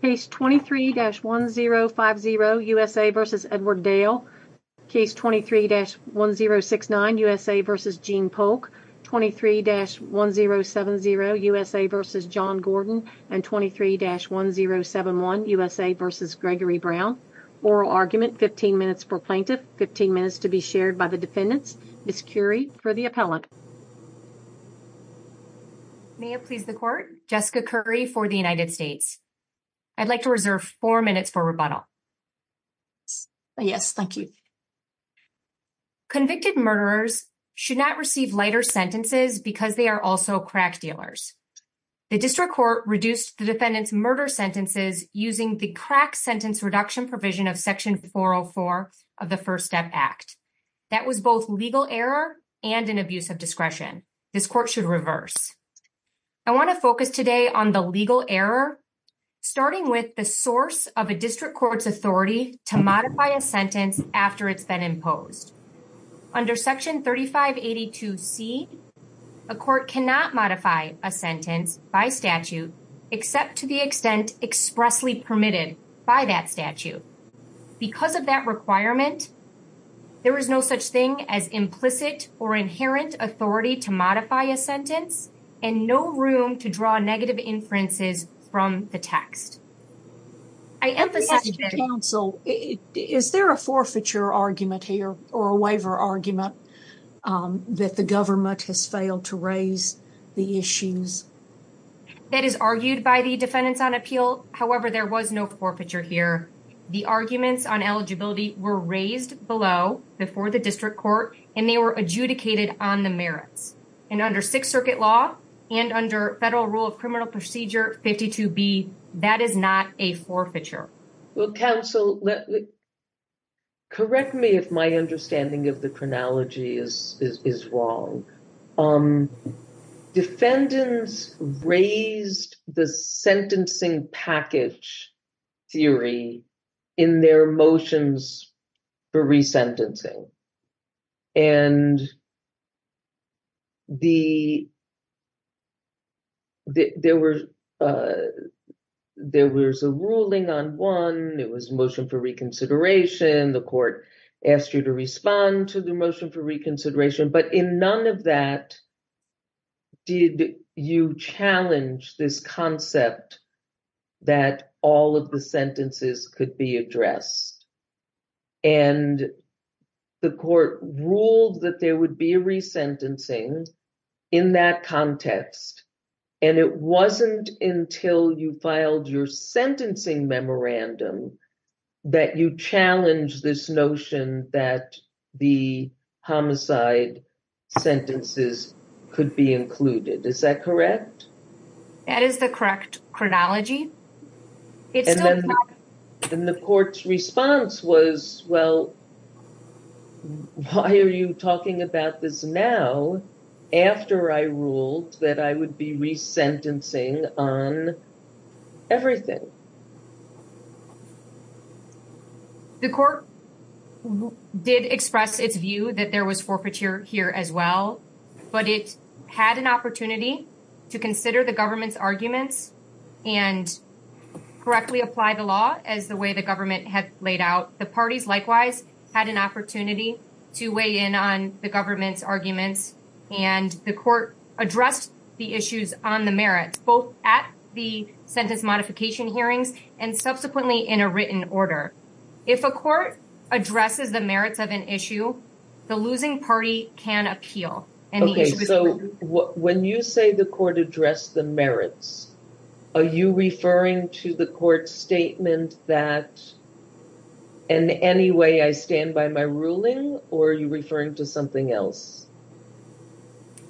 case 23-1050 USA v. Edward Dale case 23-1069 USA v. Gene Polk 23-1070 USA v. John Gordon and 23-1071 USA v. Gregory Brown. Oral argument 15 minutes for plaintiff, 15 minutes to be shared by the defendants. Ms. Currie for the appellant. May I please the court? Jessica Currie for the United States. I'd like to reserve four minutes for rebuttal. Yes, thank you. Convicted murderers should not receive lighter sentences because they are also crash dealers. The district court reduced the defendant's murder sentences using the crack sentence reduction provision of section 404 of the First Step Act. That was both legal error and an abuse of discretion. This court should reverse. I want to focus today on the legal error, starting with the source of a district court's authority to modify a sentence after it's been imposed. Under section 3582C, a court cannot modify a sentence by statute except to the extent expressly permitted by that statute. Because of that requirement, there is no such thing as implicit or inherent authority to modify a sentence and no room to draw negative inferences from the text. I emphasize... Counsel, is there a forfeiture argument here or a waiver argument that the government has failed to raise the issues? That is argued by the defendants on appeal. However, there was no forfeiture here. The arguments on eligibility were raised below before the district court and they were adjudicated on the merits. And under Sixth Circuit law and under Federal Rule of Criminal Procedure 52B, that is not a forfeiture. Well, counsel, correct me if my understanding of the chronology is wrong. Defendants raised the sentencing package theory in their motions for resentencing. And there was a ruling on one. It was a motion for reconsideration. The court asked you to respond to the motion for reconsideration. But in none of that did you challenge this concept that all of the sentences could be addressed. And the court ruled that there would be resentencing in that context. And it wasn't until you filed your sentencing memorandum that you challenged this notion that the homicide sentences could be included. Is that correct? That is the correct chronology. And the court's response was, well, why are you talking about this now after I ruled that I would be resentencing on everything? The court did express its view that there was forfeiture here as well. But it had an opportunity to consider the government's arguments and correctly apply the law as the way the government had laid out. The parties likewise had an opportunity to weigh in on the government's arguments. And the court addressed the issues on the merits, both at the sentence modification hearings and subsequently in a written order. If a court addresses the merits of an issue, the losing party can appeal. Okay. So when you say the court addressed the merits, are you referring to the court's statement that in any way I stand by my ruling? Or are you referring to something else?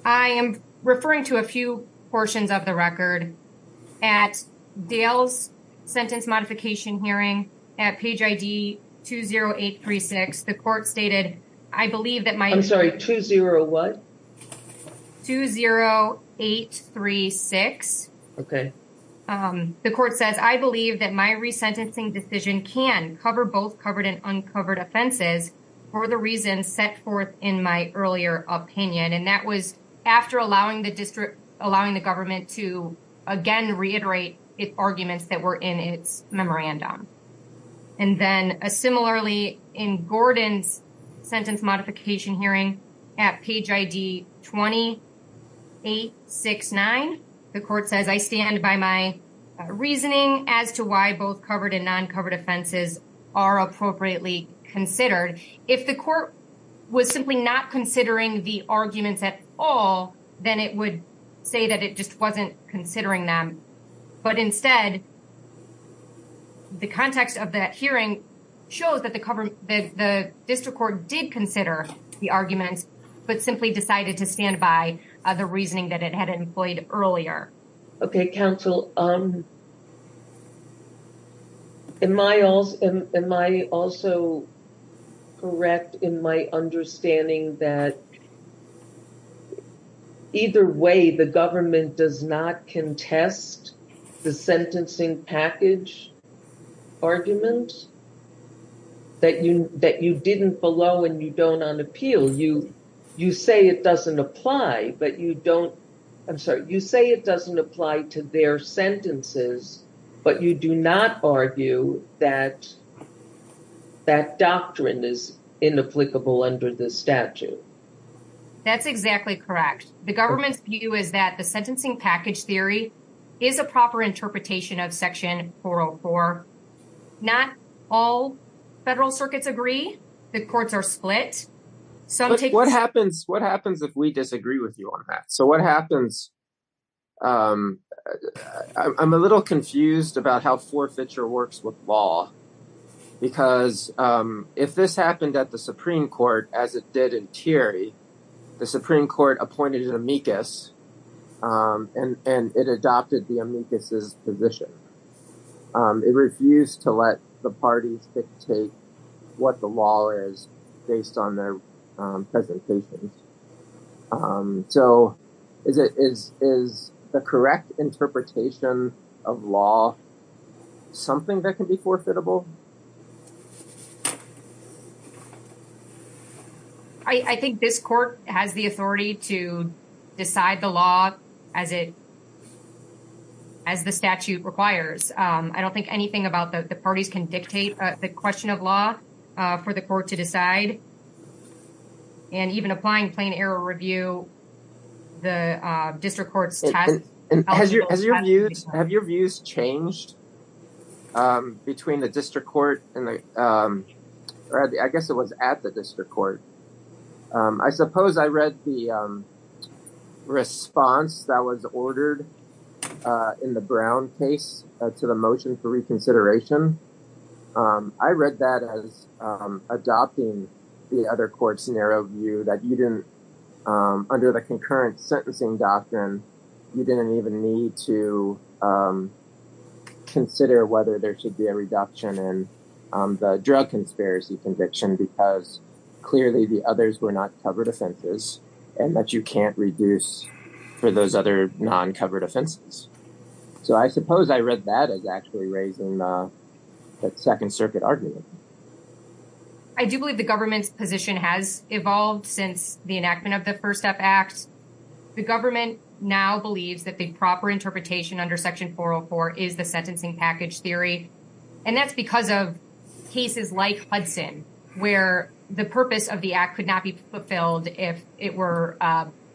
I am referring to a few portions of the record. At Dale's sentence modification hearing at page ID 20836, the court stated, I believe that my... I'm sorry, 20 what? 20836. Okay. The court says, I believe that my resentencing decision can cover both covered and uncovered offenses for the reasons set forth in my earlier opinion. And that was after allowing the government to, again, reiterate its arguments that were in its memorandum. And then similarly in Gordon's sentence modification hearing at page ID 20869, the court says, I stand by my reasoning as to why both covered and uncovered offenses are appropriately considered. If the court was simply not considering the arguments at all, then it would say that it just wasn't considering them. But instead, the context of that hearing shows that the district court did consider the argument, but simply decided to stand by the reasoning that it had employed earlier. Okay. Counsel, am I also correct in my understanding that either way, the government does not contest the sentencing package argument that you didn't below and you don't on appeal. You say it doesn't apply, but you don't... I'm sorry. You say it doesn't apply to their sentences, but you do not argue that doctrine is inapplicable under the statute. That's exactly correct. The government's view is that the sentencing package theory is a proper interpretation of section 404. Not all federal circuits agree. The courts are split. What happens if we disagree with you on this? I'm a little confused about how forfeiture works with law, because if this happened at the Supreme Court, as it did in Thierry, the Supreme Court appointed an amicus and it adopted the amicus' position. It refused to let the party dictate what the law is based on their presentations. Is the correct interpretation of law something that can be forfeitable? I think this court has the authority to decide the law as the statute requires. I don't think anything about the parties can dictate the question of law for the court to decide, and even applying plain error review, the district court has... Have your views changed between the district court and the... I guess it was at the district court. I suppose I read the response that was ordered in the Brown case to the motion for the other court's narrow view that you didn't... Under the concurrent sentencing doctrine, you didn't even need to consider whether there should be a reduction in the drug conspiracy conviction because clearly the others were not covered offenses and that you can't reduce for those other non-covered offenses. So I suppose I read that as actually raising the second circuit argument. I do believe the government's position has evolved since the enactment of the First Step Act. The government now believes that the proper interpretation under Section 404 is the sentencing package theory, and that's because of cases like Hudson where the purpose of the act could not be fulfilled if it were...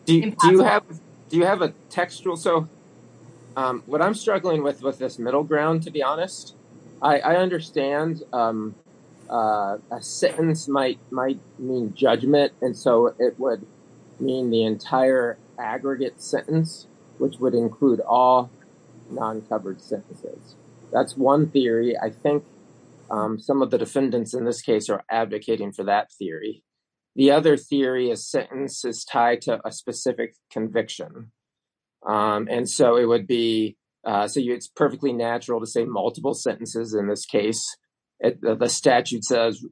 Do you have a textual... What I'm struggling with with this middle ground, to be honest, I understand a sentence might mean judgment, and so it would mean the entire aggregate sentence, which would include all non-covered sentences. That's one theory. I think some of the defendants in this case are advocating for that theory. The other theory is sentence is tied to a specific conviction, and so it would be... So it's perfectly natural to say multiple sentences in this case. The statute says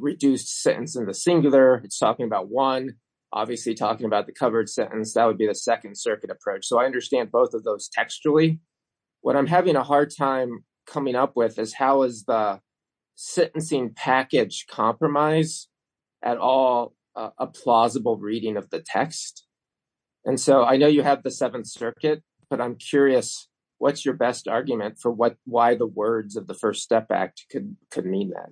reduced sentence in the singular. It's talking about one. Obviously, talking about the covered sentence, that would be the second circuit approach. So I understand both of those textually. What I'm having a hard time coming up with is how is the sentencing package compromised at all a plausible reading of the text? And so I know you have the seventh circuit, but I'm curious, what's your best argument for why the words of the First Step Act could mean that?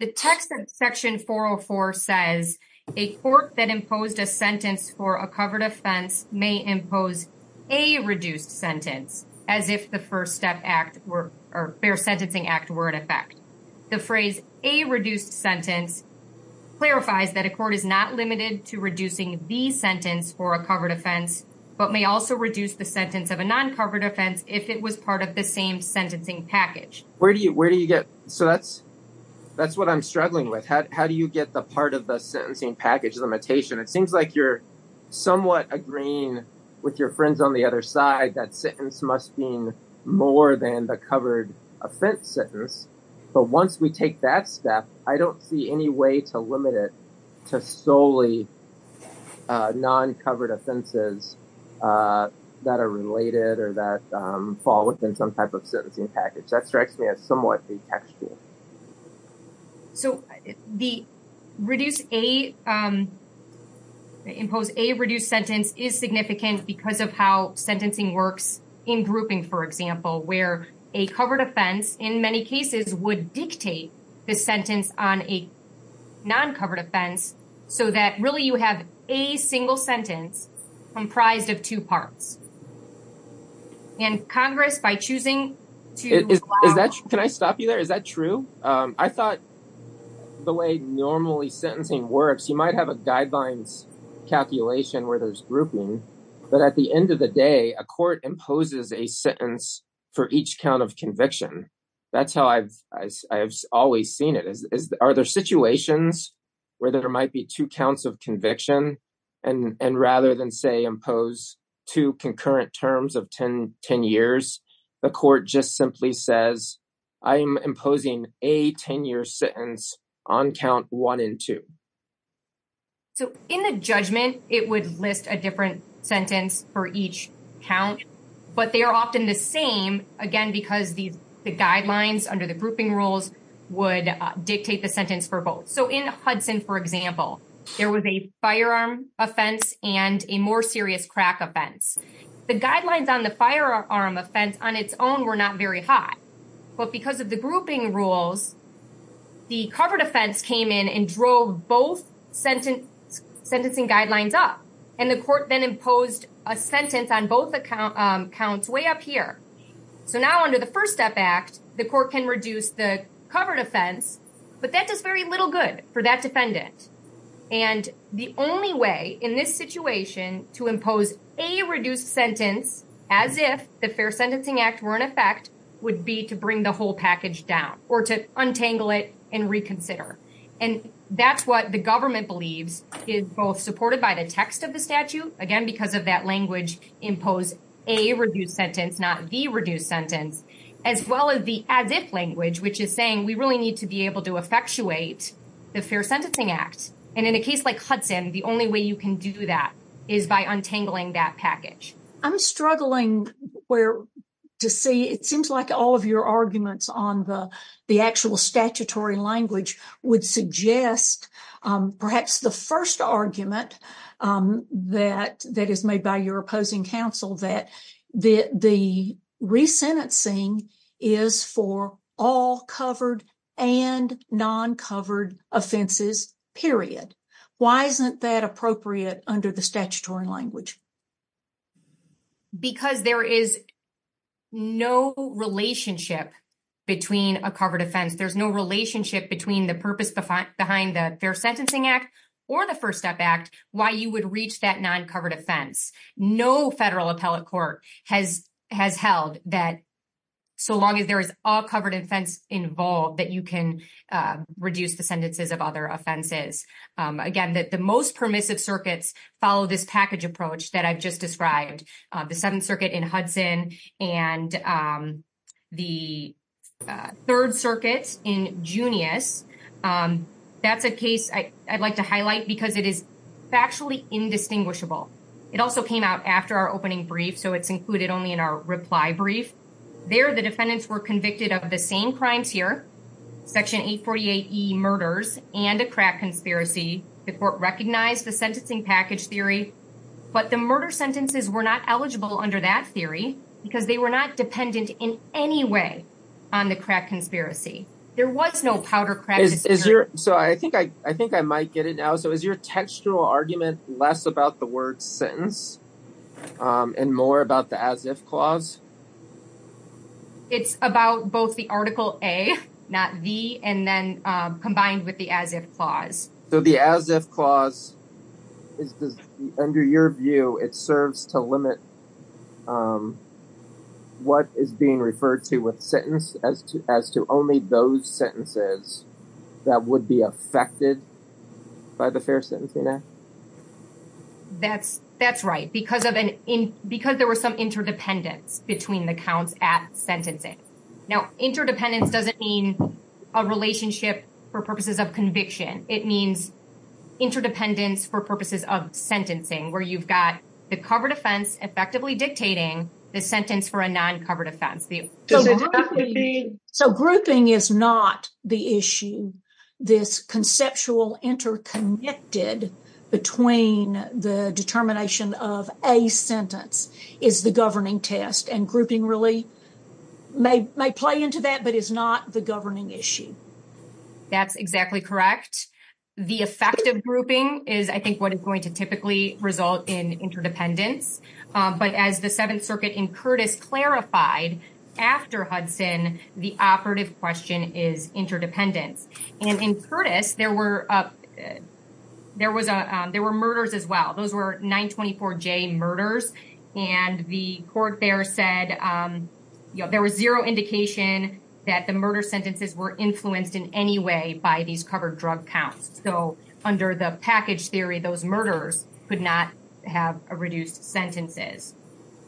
The text of Section 404 says, a court that imposed a sentence for a covered offense may impose a reduced sentence as if the First Step Act or Fair Sentencing Act were in effect. The phrase a reduced sentence clarifies that a court is not limited to reducing the sentence for a covered offense, but may also reduce the sentence of a non-covered offense if it was part of the same sentencing package. So that's what I'm struggling with. How do you get the part of the sentencing package limitation? It seems like you're somewhat agreeing with your friends on the other side that sentence must mean more than the covered offense sentence. But once we take that step, I don't see any way to limit it to solely non-covered offenses that are related or that fall within some type of sentencing package. That strikes me as somewhat contextual. So, the reduced, the imposed a reduced sentence is significant because of how sentencing works in groupings, for example, where a covered offense in many cases would dictate the sentence on a non-covered offense so that really you have a single sentence comprised of two parts. And, Congress, by choosing... Can I stop you there? Is that true? I thought the way normally sentencing works, you might have a guideline calculation where there's grouping, but at the end of the day, a court imposes a sentence for each count of conviction. That's how I've always seen it. Are there situations where there might be two counts of conviction and rather than, say, two concurrent terms of 10 years, the court just simply says, I'm imposing a 10-year sentence on count one and two? So, in the judgment, it would list a different sentence for each count, but they are often the same, again, because the guidelines under the grouping rules would dictate the sentence for Hudson, for example. There was a firearm offense and a more serious crack offense. The guidelines on the firearm offense on its own were not very high, but because of the grouping rules, the covered offense came in and drove both sentencing guidelines up, and the court then imposed a sentence on both accounts way up here. So, now under the First Step Act, the court can cover an offense, but that does very little good for that defendant. The only way in this situation to impose a reduced sentence as if the Fair Sentencing Act were in effect would be to bring the whole package down or to untangle it and reconsider. That's what the government believes is both supported by the text of the statute, again, because of that language, impose a reduced sentence, not the reduced sentence, as well as the as-if language, which is saying we really need to be able to effectuate the Fair Sentencing Act. And in a case like Hudson, the only way you can do that is by untangling that package. I'm struggling to see. It seems like all of your arguments on the actual statutory language would suggest perhaps the first argument that is made by your opposing counsel that the resentencing is for all covered and non-covered offenses, period. Why isn't that appropriate under the statutory language? Because there is no relationship between a covered offense. There's no relationship between the purpose behind the Fair Sentencing Act or the First Step Act, why you would reach that non-covered offense. No federal appellate court has held that so long as there is all covered offense involved that you can reduce the sentences of other offenses. Again, the most permissive circuits follow this package approach that I've just described, the Seventh Circuit in Hudson and the Third Circuit in Junius. That's a case I'd like to highlight because it is factually indistinguishable. It also came out after our opening brief, so it's included only in our reply brief. There, the defendants were convicted of the same crime here, Section 848E murders and a crack conspiracy. The court recognized the sentencing package theory, but the murder sentences were not eligible under that theory because they were not dependent in any way on the crack conspiracy. There was no powder crack. So I think I might get it now. So is your textual argument less about the word sentence and more about the as-if clause? It's about both the Article A, not B, and then combined with the as-if clause. So the as-if clause, under your view, it serves to limit what is being referred to with sentence as to only those sentences that would be affected by the fair sentencing act? That's right, because there was some interdependence between the counts at sentencing. Now interdependence doesn't mean a relationship for purposes of conviction. It means interdependence for purposes of sentencing, where you've got the covered offense effectively dictating the sentence for a non-covered offense. So grouping is not the issue. This conceptual interconnected between the determination of a sentence is the governing test, and grouping really may play into that, but is not the governing issue. That's exactly correct. The effective grouping is, I think, what is going to typically result in interdependence, but as the Seventh Circuit in Curtis clarified after Hudson, the operative question is interdependent. And in Curtis, there were murders as well. Those were 924J murders, and the court there said there was zero indication that the murder sentences were influenced in any way by these covered drug counts. So under the package theory, those murderers could not have reduced sentences.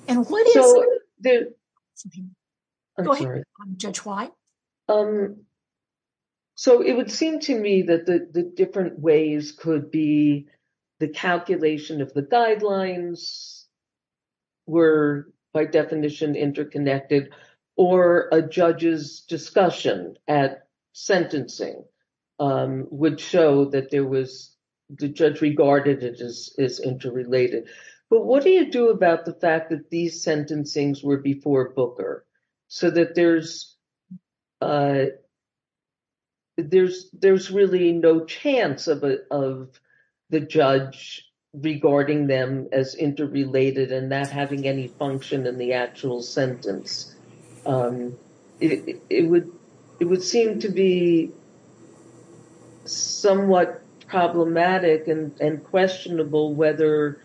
And what is the- I'm sorry. Go ahead, Judge White. So it would seem to me that the different ways could be the calculation of the guidelines were, by definition, interconnected, or a judge's discussion at sentencing would show that there was- the judge regarded it as interrelated. But what do you do about the fact that these sentencings were before Booker, so that there's a- there's really no chance of the judge regarding them as interrelated and not having any function in the actual sentence? It would seem to be somewhat problematic and questionable whether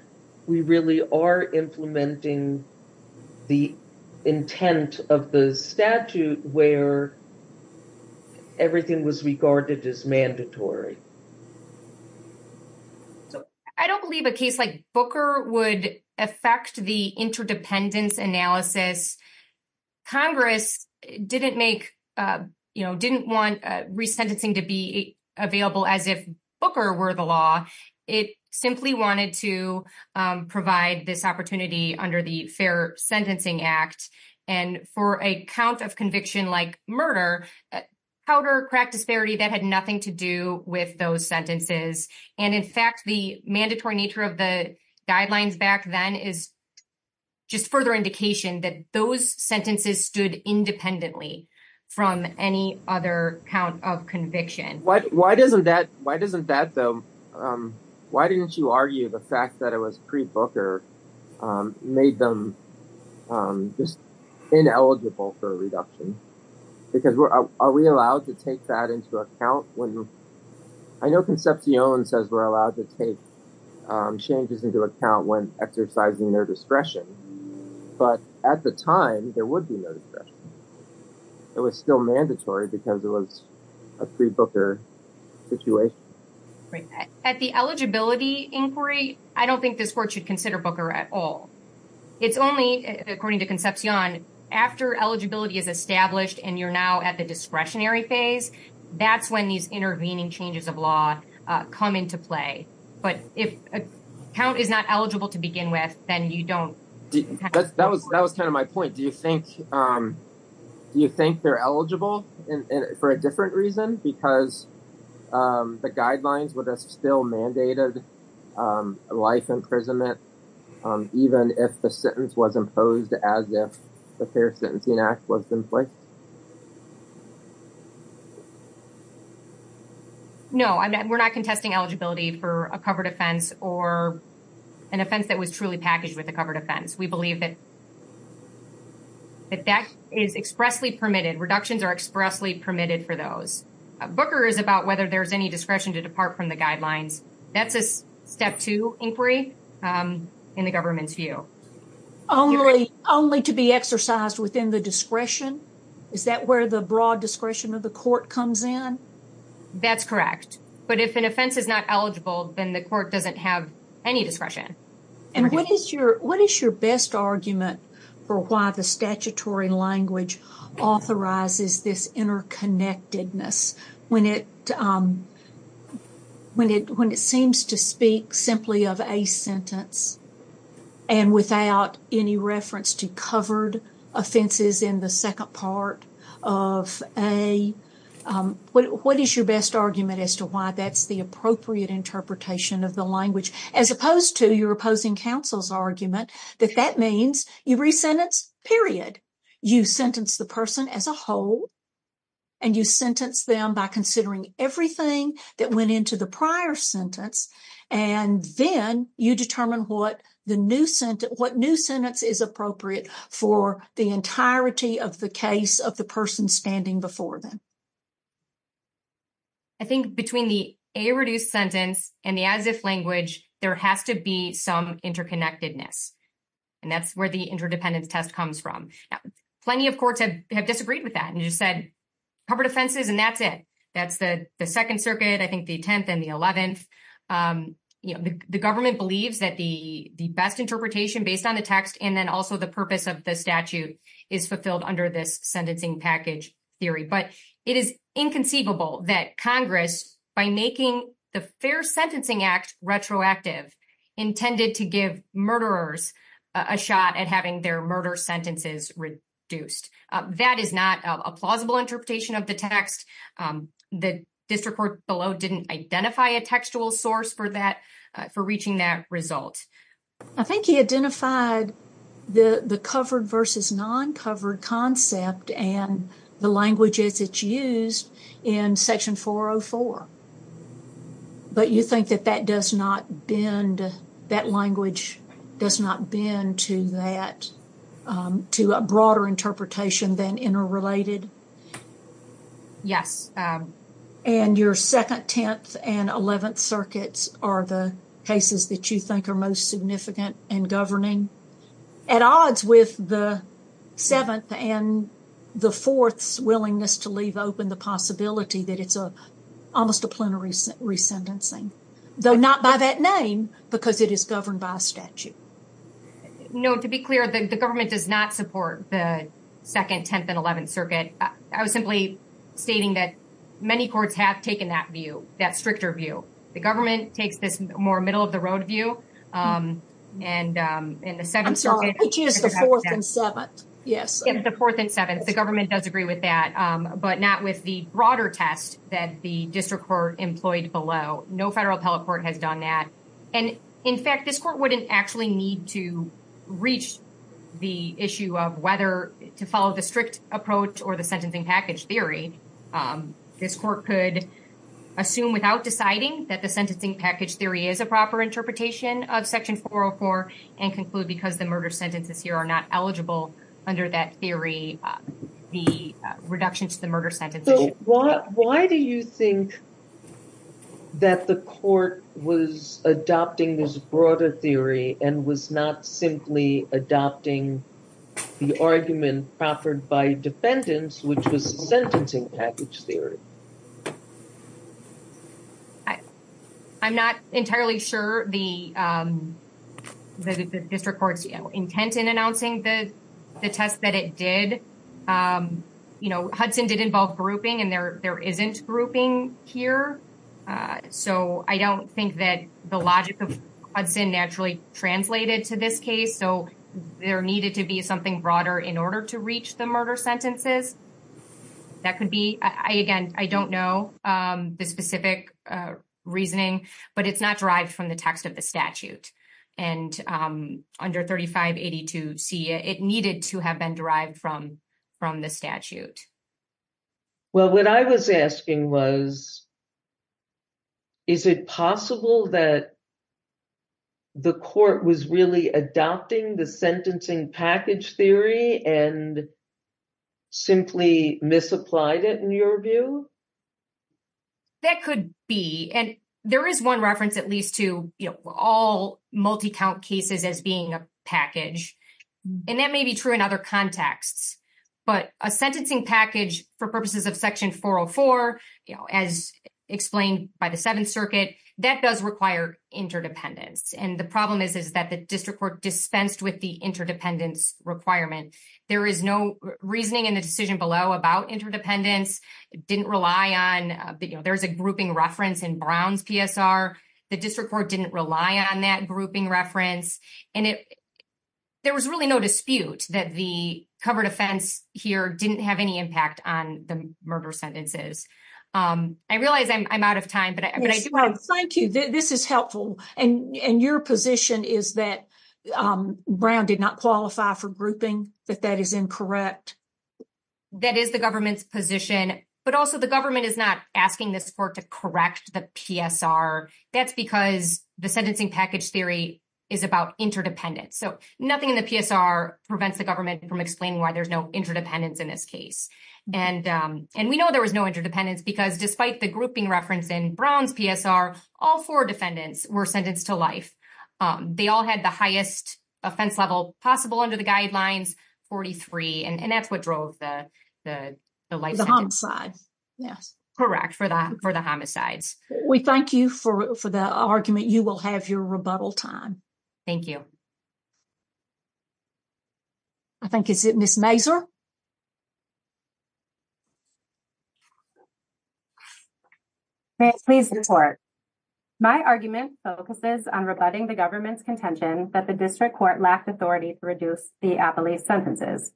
we really are implementing the intent of the statute where everything was regarded as mandatory. I don't believe a case like Booker would affect the interdependence analysis. Congress didn't make- you know, didn't want resentencing to be available as if Booker were the law. It simply wanted to provide this opportunity under the Fair Sentencing Act. And for a count of conviction like murder, powder crack hysteria that had nothing to do with those sentences. And in fact, the mandatory nature of the guidelines back then is just further indication that those sentences stood independently from any other count of conviction. Why doesn't that- why doesn't that, though- why didn't you argue the fact that it was pre-Booker made them just ineligible for a reduction? Because we're- are we allowed to take that into account when- I know Concepcion says we're allowed to take changes into account when exercising their discretion. But at the time, there would be no discretion. It was still mandatory because it was a pre-Booker situation. At the eligibility inquiry, I don't think this court should consider Booker at all. It's only, according to Concepcion, after eligibility is established and you're now at the discretionary phase, that's when these intervening changes of law come into play. But if a count is not eligible to begin with, then you don't- That was kind of my point. Do you think- do you think they're eligible for a different reason? Because the guidelines would have still mandated life imprisonment, even if the sentence was imposed as if the Fair Sentencing Act was in place? No, we're not contesting eligibility for a covered offense or an offense that was truly a covered offense. We believe that that is expressly permitted. Reductions are expressly permitted for those. Booker is about whether there's any discretion to depart from the guidelines. That's a step two inquiry in the government's view. Only to be exercised within the discretion? Is that where the broad discretion of the court comes in? That's correct. But if an offense is not then the court doesn't have any discretion. And what is your- what is your best argument for why the statutory language authorizes this interconnectedness? When it- when it seems to speak simply of a sentence and without any reference to covered offenses in the second part of a- what is your best argument as to why that's the appropriate interpretation of the language? As opposed to your opposing counsel's argument that that means you re-sentence, period. You sentence the person as a whole and you sentence them by considering everything that went into the prior sentence and then you determine what the new sentence- what new sentence is appropriate for the entirety of the case of the a reduced sentence and as this language there has to be some interconnectedness. And that's where the interdependence test comes from. Plenty of courts have disagreed with that and just said covered offenses and that's it. That's the second circuit, I think the 10th and the 11th. You know, the government believes that the- the best interpretation based on a text and then also the purpose of the statute is fulfilled under this sentencing package theory. But it is inconceivable that Congress, by making the Fair Sentencing Act retroactive, intended to give murderers a shot at having their murder sentences reduced. That is not a plausible interpretation of the text. The district court below didn't identify a textual source for that- for reaching that result. I think he identified the- the covered versus non-covered concept and the language as used in section 404. But you think that that does not bend- that language does not bend to that- to a broader interpretation than interrelated? Yeah. And your second, 10th, and 11th circuits are the cases that you think are most significant in governing? At odds with the 7th and the 4th's willingness to leave open the possibility that it's a- almost a plenary resentencing. Though not by that name, because it is governed by a statute. No, to be clear, the government does not support the 2nd, 10th, and 11th circuit. I was simply stating that many courts have taken that view, that stricter view. The government takes this more middle-of-the-road view. And in the 7th circuit- I'm sorry, I think it's the 4th and 7th. Yes. It's the 4th and 7th. The government does agree with that, but not with the broader text that the district court employed below. No federal telecourt has done that. And in fact, this court wouldn't actually need to reach the issue of whether to follow the strict approach or the sentencing package theory. This court could assume without deciding that the sentencing package theory is a proper interpretation of Section 404 and conclude because the murder sentences here are not eligible under that theory, the reduction to the murder sentences. Why do you think that the court was adopting this broader theory and was not simply adopting the argument proffered by defendants, which was the sentencing package theory? I'm not entirely sure the district court's intent in announcing the test that it did. You know, Hudson did involve grouping and there isn't grouping here. So I don't think that the logic of Hudson actually translated to this case. So there needed to be something broader in order to reach the murder sentences. That could be, again, I don't know the specific reasoning, but it's not derived from the text of the statute. And under 3582C, it needed to have been derived from the statute. Well, what I was asking was, is it possible that the court was really adopting the sentencing package theory and simply misapplied it in your view? That could be. And there is one reference that leads to all multi-count cases as being a package. And that may be true in other contexts. But a sentencing package for purposes of Section 404, as explained by the Seventh Circuit, that does require interdependence. And the problem is that the district court dispensed with the interdependence requirement. There is no reasoning in the decision below about interdependence. It didn't rely on, there's a grouping reference in Brown's PSR. The district court didn't rely on that grouping reference. And there was really no dispute that the covered offense here didn't have any impact on the murder sentences. I realize I'm out of time, but I do have- Thank you. This is helpful. And your position is that Brown did not qualify for grouping, that that is incorrect? That is the government's position. But also the government is not asking the court to correct the PSR. That's because the sentencing package theory is about interdependence. So nothing in the PSR prevents the government from explaining why there's no interdependence in this case. And we know there was no interdependence because despite the grouping reference in Brown's PSR, all four defendants were sentenced to life. They all had the highest offense level possible under the guidelines, 43, and that's what drove the- The homicide. Yes. Correct, for the homicides. We thank you for the argument. You will have your rebuttal time. Thank you. I think it's Ms. Major. May I please report? My argument focuses on rebutting the government's contention that the district court lacked authority to reduce the appellee's sentences.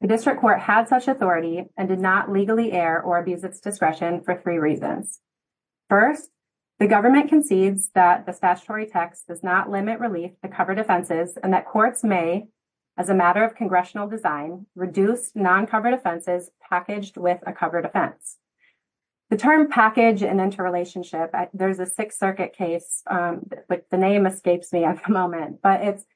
The district court had such authority and did not legally air or abuse its discretion for three reasons. First, the government concedes that the statutory text does not limit release to covered offenses and that courts may, as a matter of congressional design, reduce non-covered offenses packaged with a covered offense. The term package and interrelationship, there's a Sixth Circuit case, but the name escapes me at the moment, but it's-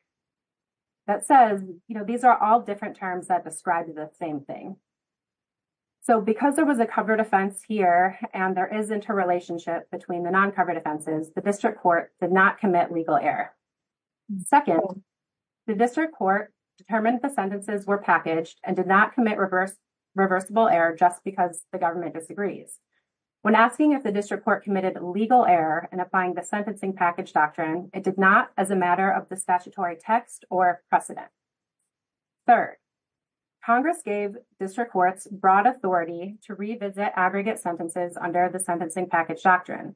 that says, you know, these are all different terms that describe the same thing. So, because there was a covered offense here and there is interrelationship between the non-covered offenses, the district court did not commit legal error. Second, the district court determined the sentences were packaged and did not commit reversible error just because the government disagrees. When asking if the district court committed legal error in applying the sentencing package doctrine, it did not as a matter of the text or precedent. Third, Congress gave district courts broad authority to revisit aggregate sentences under the sentencing package doctrine.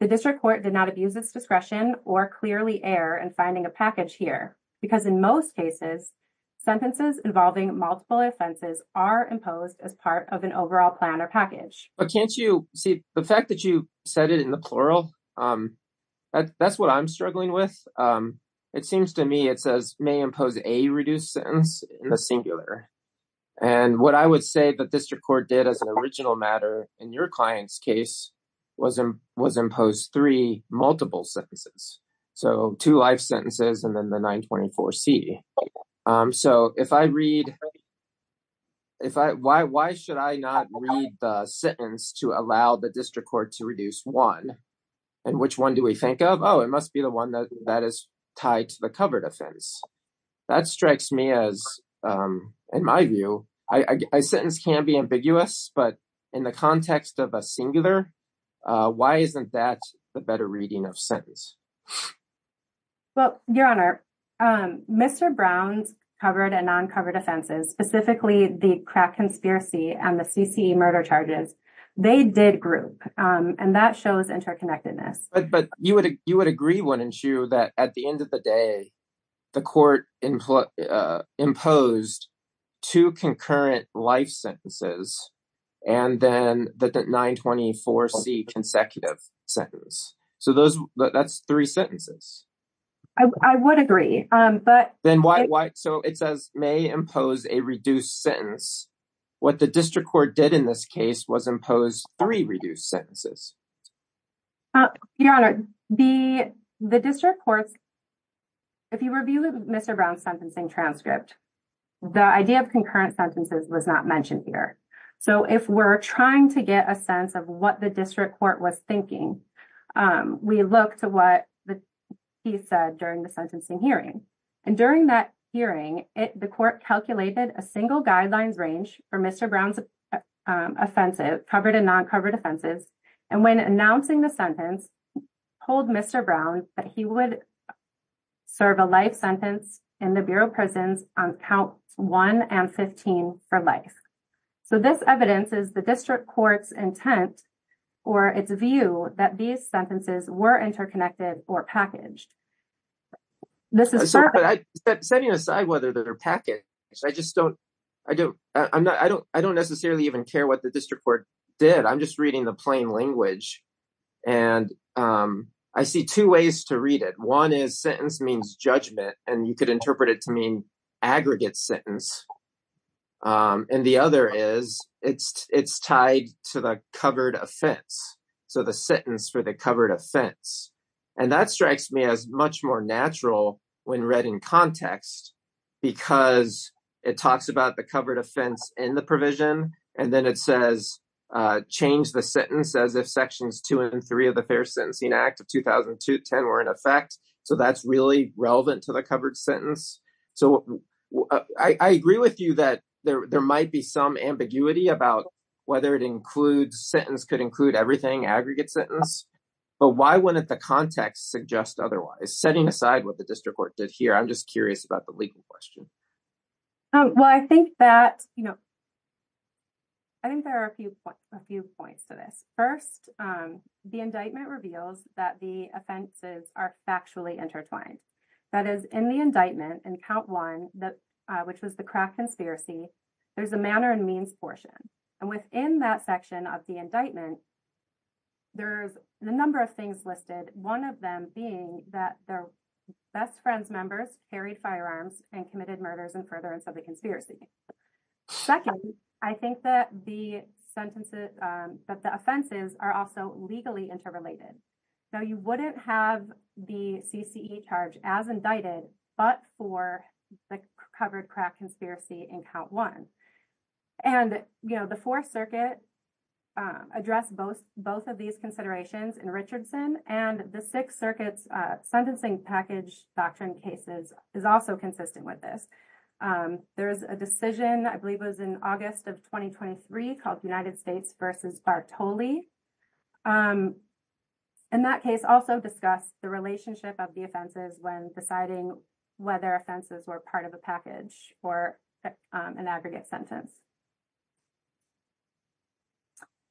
The district court did not abuse its discretion or clearly err in finding a package here because, in most cases, sentences involving multiple offenses are imposed as part of an overall plan or package. But can't you see the fact that you said it in the plural? That's what I'm struggling with. It seems to me it says, may impose a reduced sentence in the singular. And what I would say the district court did as an original matter in your client's case was impose three multiple sentences. So, two life sentences and then the 924C. So, if I read- if I- why should I not read the sentence to allow the district court to reduce one? And which one do we think of? Oh, it must be the one that is tied to the covered offense. That strikes me as, in my view, a sentence can be ambiguous, but in the context of a singular, why isn't that the better reading of sentence? Well, your honor, Mr. Brown's covered and non-covered offenses, specifically the conspiracy and the CTE murder charges, they did group. And that shows interconnectedness. But you would agree, wouldn't you, that at the end of the day, the court imposed two concurrent life sentences and then the 924C consecutive sentence. So, those- that's three sentences. I would agree, but- So, it may impose a reduced sentence. What the district court did in this case was impose three reduced sentences. Your honor, the district court- if you review Mr. Brown's sentencing transcript, the idea of concurrent sentences was not mentioned here. So, if we're trying to get a sense of what the district court was thinking, we look to what he said during the sentencing hearing. And during that hearing, the court calculated a single guideline range for Mr. Brown's offenses, covered and non-covered offenses. And when announcing the sentence, told Mr. Brown that he would serve a life sentence in the Bureau of Prisons on count 1 and 15 for life. So, this evidence is the district court's or its view that these sentences were interconnected or packaged. Setting aside whether they're packaged, I just don't- I don't necessarily even care what the district court did. I'm just reading the plain language and I see two ways to read it. One is sentence means judgment and you could interpret it to mean aggregate sentence. And the other is it's tied to the covered offense. So, the sentence for the covered offense. And that strikes me as much more natural when read in context because it talks about the covered offense in the provision and then it says change the sentence as if sections two and three of the Fair Sentencing Act of 2002-10 were in effect. So, that's really relevant to the covered sentence. So, I agree with you that there might be some ambiguity about whether it includes- sentence could include everything, aggregate sentence. But why wouldn't the context suggest otherwise? Setting aside what the district court did here, I'm just curious about the legal question. Well, I think that, you know, I think there are a few points to this. First, the indictment reveals that the offenses are factually intertwined. That is, in the indictment, in count one, which was the craft conspiracy, there's a manner and means portion. And within that section of the indictment, there's a number of things listed. One of them being that their best friends members carried firearms and committed murders in furtherance of the conspiracy. Second, I think that the sentences- that the offenses are also legally interrelated. So, you wouldn't have the CCE charge as indicted, but for the covered craft conspiracy in count one. And, you know, the Fourth Circuit addressed both of these considerations in Richardson, and the Sixth Circuit's sentencing package doctrine cases is also consistent with this. There's a decision, I believe it was in August of 2023, called United States v. Bartoli. And that case also discussed the relationship of the offenses when deciding whether offenses were part of the package or an aggregate sentence.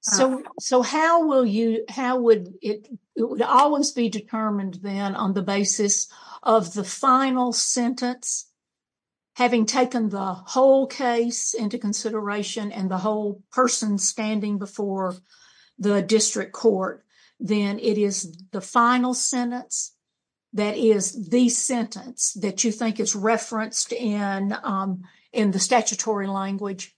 So, how will you- how would it- it would always be determined then on the basis of the final sentence, having taken the whole case into consideration and the whole person standing before the district court, then it is the final sentence that is the sentence that you think is referenced in the statutory language?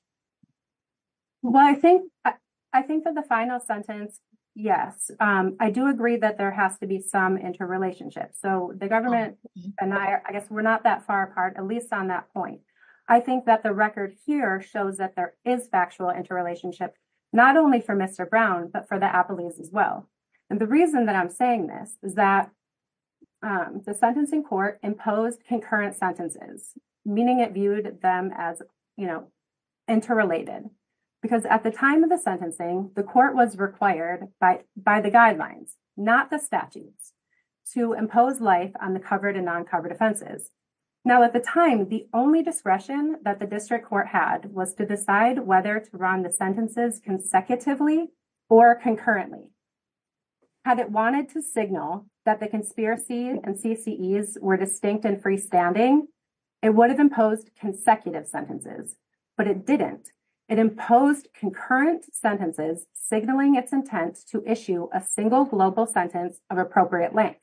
Well, I think that the final sentence, yes. I do agree that there has to be some interrelationship. So, the government and I, I guess we're not that far apart, at least on that point. I think that the record here shows that there is factual interrelationship, not only for Mr. Brown, but for the appellees as well. And the reason that I'm saying this is that the sentencing court imposed concurrent sentences, meaning it viewed them as, you know, interrelated. Because at the time of the sentencing, the court was required by the guidelines, not the statute, to impose life on the covered and uncovered offenses. Now, at the time, the only discretion that the district court had was to decide whether to run the sentences consecutively or concurrently. Had it wanted to signal that the conspiracies and CCEs were distinct and freestanding, it would have imposed consecutive sentences. But it didn't. It imposed concurrent sentences signaling its intent to issue a single global sentence of appropriate length.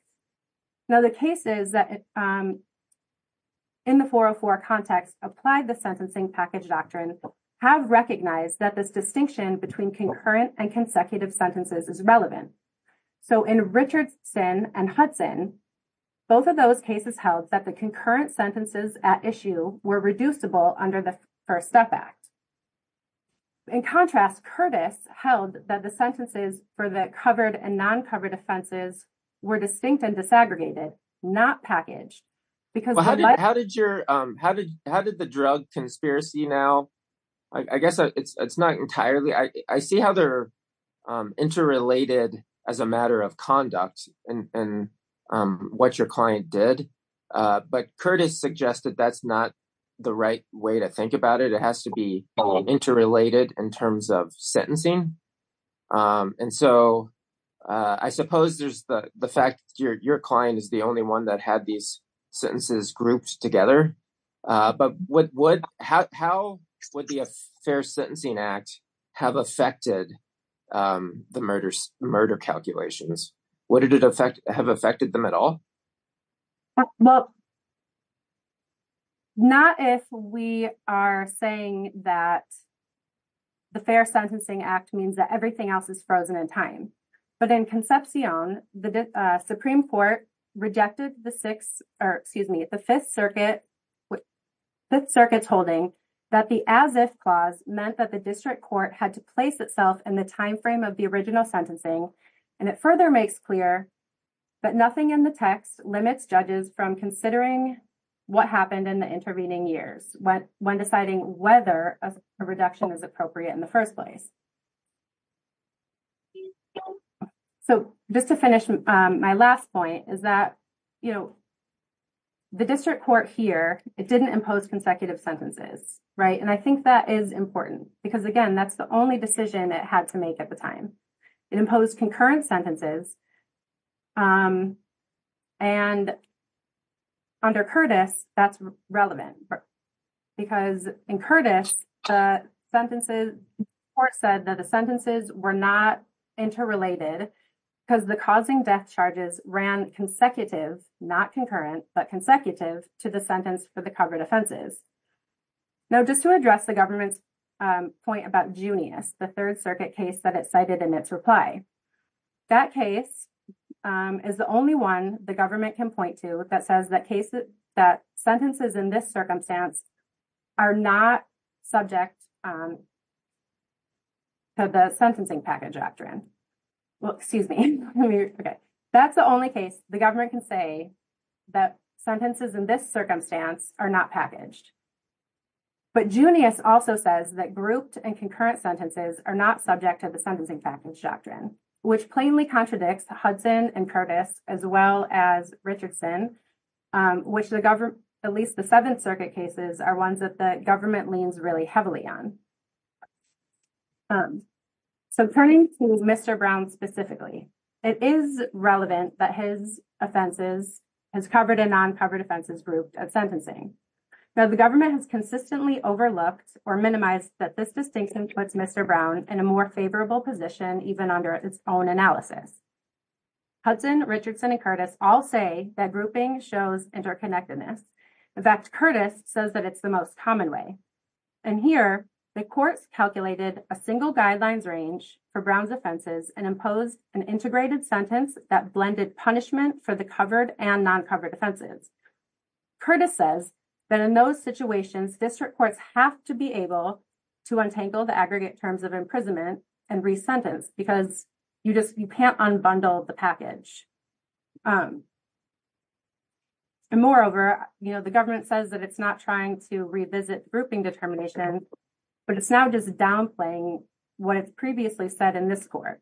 Now, the cases that in the 404 context applied the Sentencing Package Doctrine have recognized that this distinction between concurrent and consecutive sentences is relevant. So, in Richardson and Hudson, both of those cases held that the concurrent sentences at issue were reducible under the First Death Act. In contrast, Curtis held that the sentences for the covered and non-covered offenses were distinct and disaggregated, not packaged. Because how did your, how did the drug conspiracy now, I guess it's not entirely, I see how they're interrelated as a matter of conduct and what your client did. But Curtis suggested that's not the right way to think about it. It has to be interrelated in terms of sentencing. And so, I suppose there's the fact your client is the only one that had these sentences grouped together. But how would the Fair Sentencing Act have affected the murder calculations? Would it have affected them at all? Well, not if we are saying that the Fair Sentencing Act means that everything else is frozen in time. But in Concepcion, the Supreme Court rejected the Fifth Circuit's holding that the as-is clause meant that the district court had to place itself in the timeframe of the original limits judges from considering what happened in the intervening years when deciding whether a reduction is appropriate in the first place. So, just to finish, my last point is that, you know, the district court here, it didn't impose consecutive sentences, right? And I think that is important because, again, that's the only decision it had to make at the time. It imposed concurrent sentences. And under Curtis, that's relevant because in Curtis, the sentences, the court said that the sentences were not interrelated because the causing death charges ran consecutive, not concurrent, but consecutive to the sentence for the covered offenses. Now, just to address the government's point about Junius, the Third Circuit case that cited in its reply, that case is the only one the government can point to that says that cases, that sentences in this circumstance are not subject to the sentencing package doctrine. Well, excuse me. That's the only case the government can say that sentences in this circumstance are not packaged. But Junius also says that grouped and concurrent sentences are not subject to the sentencing package doctrine, which plainly contradicts Hudson and Curtis, as well as Richardson, which at least the Seventh Circuit cases are ones that the government leans really heavily on. So, turning to Mr. Brown specifically, it is relevant that his offenses has covered a non-covered offenses group of sentencing. Now, the government has consistently overlooked or minimized that this distinction with Mr. Brown in a more favorable position, even under its own analysis. Hudson, Richardson, and Curtis all say that grouping shows interconnectedness. In fact, Curtis says that it's the most common way. And here, the court calculated a single guidelines range for Brown's offenses and imposed an integrated sentence that blended punishment for the covered and non-covered offenses. Curtis says that in those situations, district courts have to be able to untangle the aggregate terms of imprisonment and re-sentence because you can't unbundle the package. And moreover, the government says that it's not trying to revisit grouping determinations, but it's now just downplaying what is previously said in this court.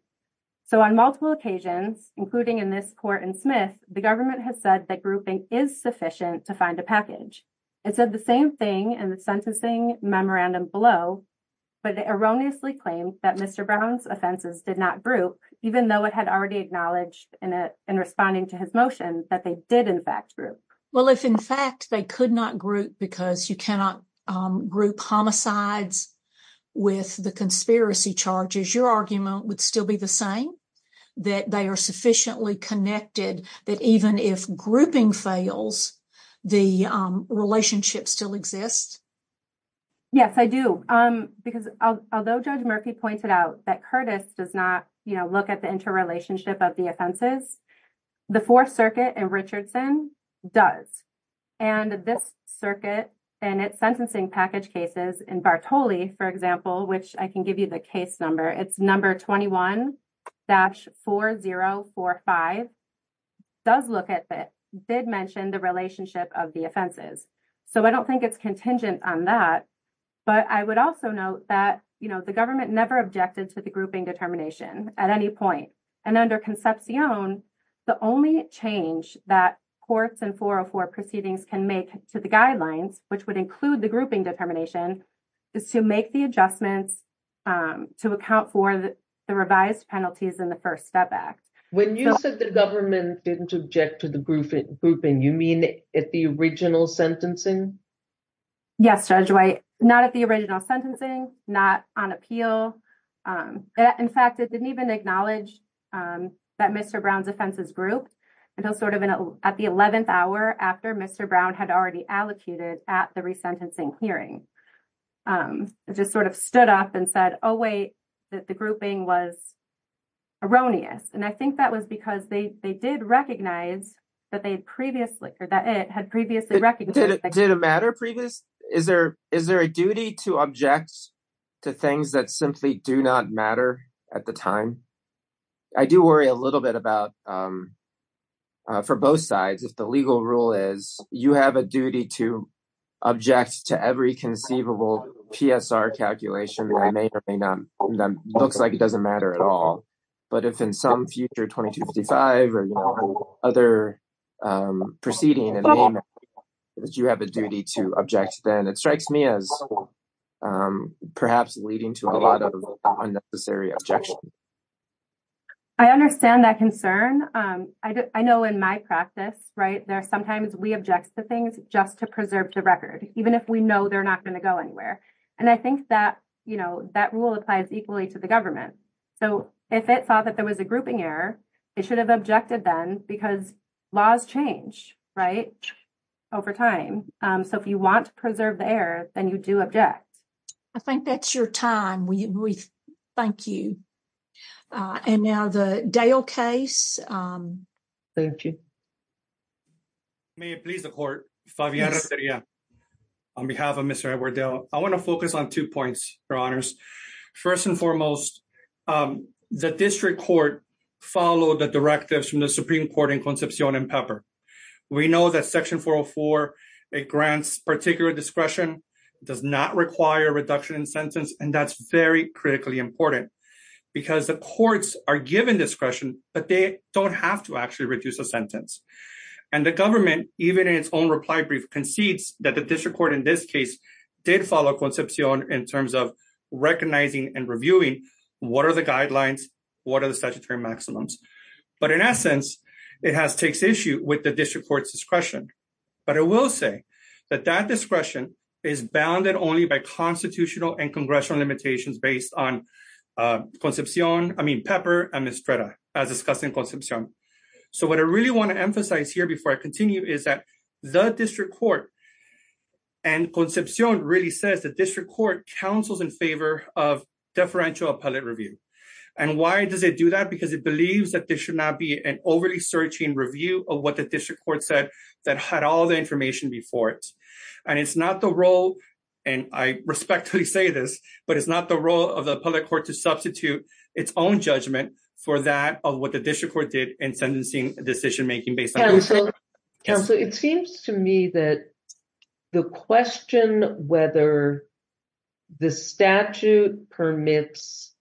So, on multiple occasions, including in this court in Smith, the government has said that grouping is sufficient to find a package. It says the same thing in the sentencing memorandum below, but it erroneously claims that Mr. Brown's offenses did not group, even though it had already acknowledged in responding to his motions that they did in fact group. Well, if in fact they could not group because you cannot group homicides with the conspiracy charges, your argument would still be the same? That they are sufficiently connected that even if grouping fails, the relationship still exists? Yes, I do. Because although Judge Murphy pointed out that Curtis does not, you know, look at the interrelationship of the offenses, the Fourth Circuit in Richardson does. And this circuit and its sentencing package cases in Bartoli, for example, which I can give you the case number, it's number 21-4045, does look at this, did mention the relationship of the offenses. So, I don't think it's contingent on that, but I would also note that, you know, the government never objected to the grouping determination at any point. And under Concepcion, the only change that course and 404 proceedings can make to the guidelines, which would include the grouping determination, is to make the adjustments to account for the revised penalties in the First Step Act. When you said the government didn't object to the grouping, you mean at the original sentencing? Yes, Judge White, not at the original sentencing, not on appeal. In fact, it didn't even acknowledge that Mr. Brown's offenses group until sort of at the 11th hour after Mr. Brown had already allocuted at the resentencing hearing. It just sort of stood up and said, oh, wait, the grouping was erroneous. And I think that was because they did recognize, but they previously, or that it had previously recognized. Did it matter previously? Is there a duty to object to things that simply do not matter at the time? I do worry a little bit about, for both sides, if the legal rule is you have a duty to object to every conceivable PSR calculation that looks like it doesn't matter at all. But if in some future 2255 or other proceeding, you have a duty to object, then it strikes me as perhaps leading to a lot of unnecessary objections. I understand that concern. I know in my practice, right, sometimes we object to things just to preserve to record, even if we know they're not going to go anywhere. And I think that rule applies equally to the government. So if it thought that there was a grouping error, it should have objected then because laws change, right, over time. So if you want to preserve errors, then you do object. I think that's your time. We thank you. And now the Dale case. May it please the court, Fabián Restrepo. On behalf of Mr. Edward Dale, I want to focus on two points, your honors. First and foremost, the district court followed the directives from the particular discretion. It does not require a reduction in sentence. And that's very critically important because the courts are given discretion, but they don't have to actually reduce a sentence. And the government, even in its own reply brief, concedes that the district court in this case did follow Concepcion in terms of recognizing and reviewing what are the guidelines, what are the statutory maximums. But in essence, it has takes issue with the district court's discretion. But I will say that that discretion is bounded only by constitutional and congressional limitations based on Concepcion, I mean, Pepper and Estrella as discussed in Concepcion. So what I really want to emphasize here before I continue is that the district court and Concepcion really says the district court counsels in favor of deferential appellate review. And why does it do that? Because it believes that there should not be an overly searching review of what the district court said that had all the information before it. And it's not the role, and I respectfully say this, but it's not the role of the public court to substitute its own judgment for that of what the district court did in sentencing decision making based on Concepcion. Counselor, it seems to me that the question whether the statute permits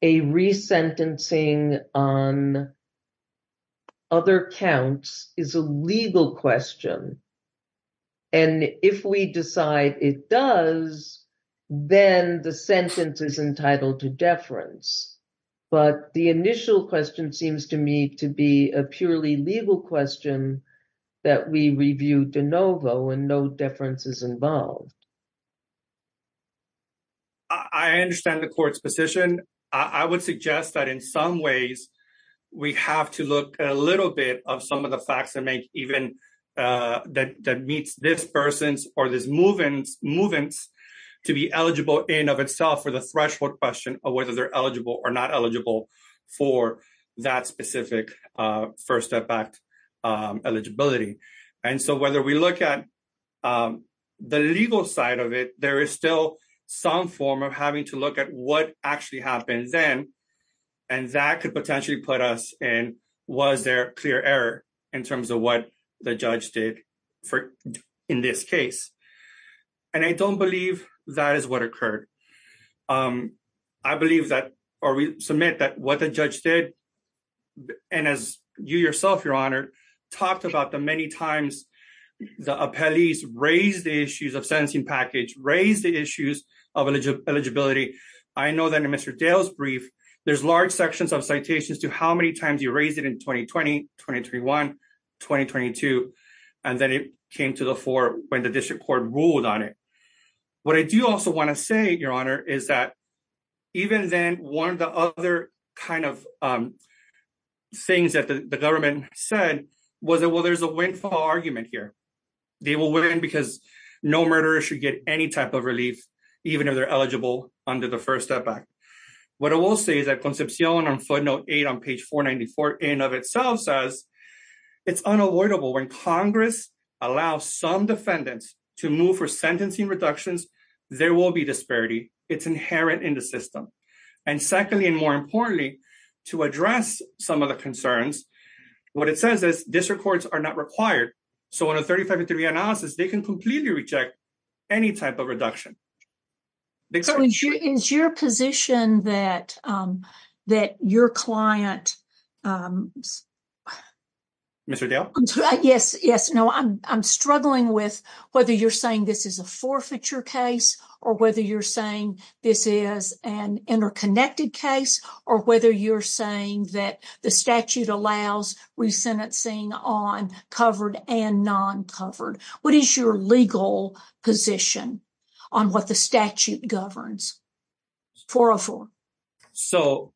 a resentencing on other counts is a legal question. And if we decide it does, then the sentence is entitled to deference. But the initial question seems to me to be a purely legal question that we reviewed de novo and no deference is involved. I understand the court's position. I would suggest that in some ways we have to look at a little bit of some of the facts that make even that meets this person's or this movement's to be eligible in of itself for the threshold question of whether they're eligible or not eligible for that specific first step back eligibility. And so whether we look at the legal side of it, there is still some form of having to look at what actually happened then, and that could potentially put us in was there clear error in terms of what the judge did in this case. And I don't believe that is what occurred. I believe that or we submit that what the judge did and as you yourself, your honor, talked about the many times the appellees raised the issues of sentencing package, raised the issues of eligibility. I know that in Mr. Dale's there's large sections of citations to how many times you raised it in 2020, 2031, 2022, and then it came to the fore when the district court ruled on it. What I do also want to say, your honor, is that even then one of the other kind of things that the government said was, well, there's a windfall argument here. They will win because no murderer should get any type of relief, even if they're eligible under the First Step Act. What it will say is that Concepcion on footnote eight on page 494 in and of itself says, it's unavoidable when Congress allows some defendants to move for sentencing reductions, there will be disparity. It's inherent in the system. And secondly, and more importantly, to address some of the concerns, what it says is district courts are not required. So in a 35 to three analysis, they can completely reject any type of reduction. Is your position that your client... Mr. Dale? Yes, yes. No, I'm struggling with whether you're saying this is a forfeiture case or whether you're saying this is an interconnected case or whether you're saying that the statute allows resentencing on covered and non-covered. What is your legal position on what the statute governs? 404. So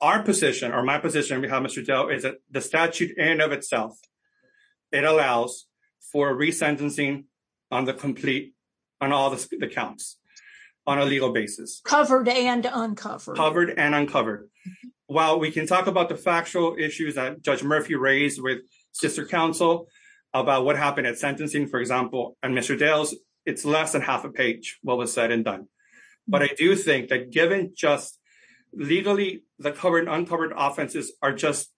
our position or my position on behalf of Mr. Dale is that the statute in and of itself, it allows for resentencing on the complete, on all the counts, on a legal basis. Covered and uncovered. Covered and uncovered. While we can talk about the factual issues that Judge Murphy raised with district counsel about what happened at sentencing, for example, on Mr. Dale's, it's less than half a page, what was said and done. But I do think that given just legally, the covered and uncovered offenses are just,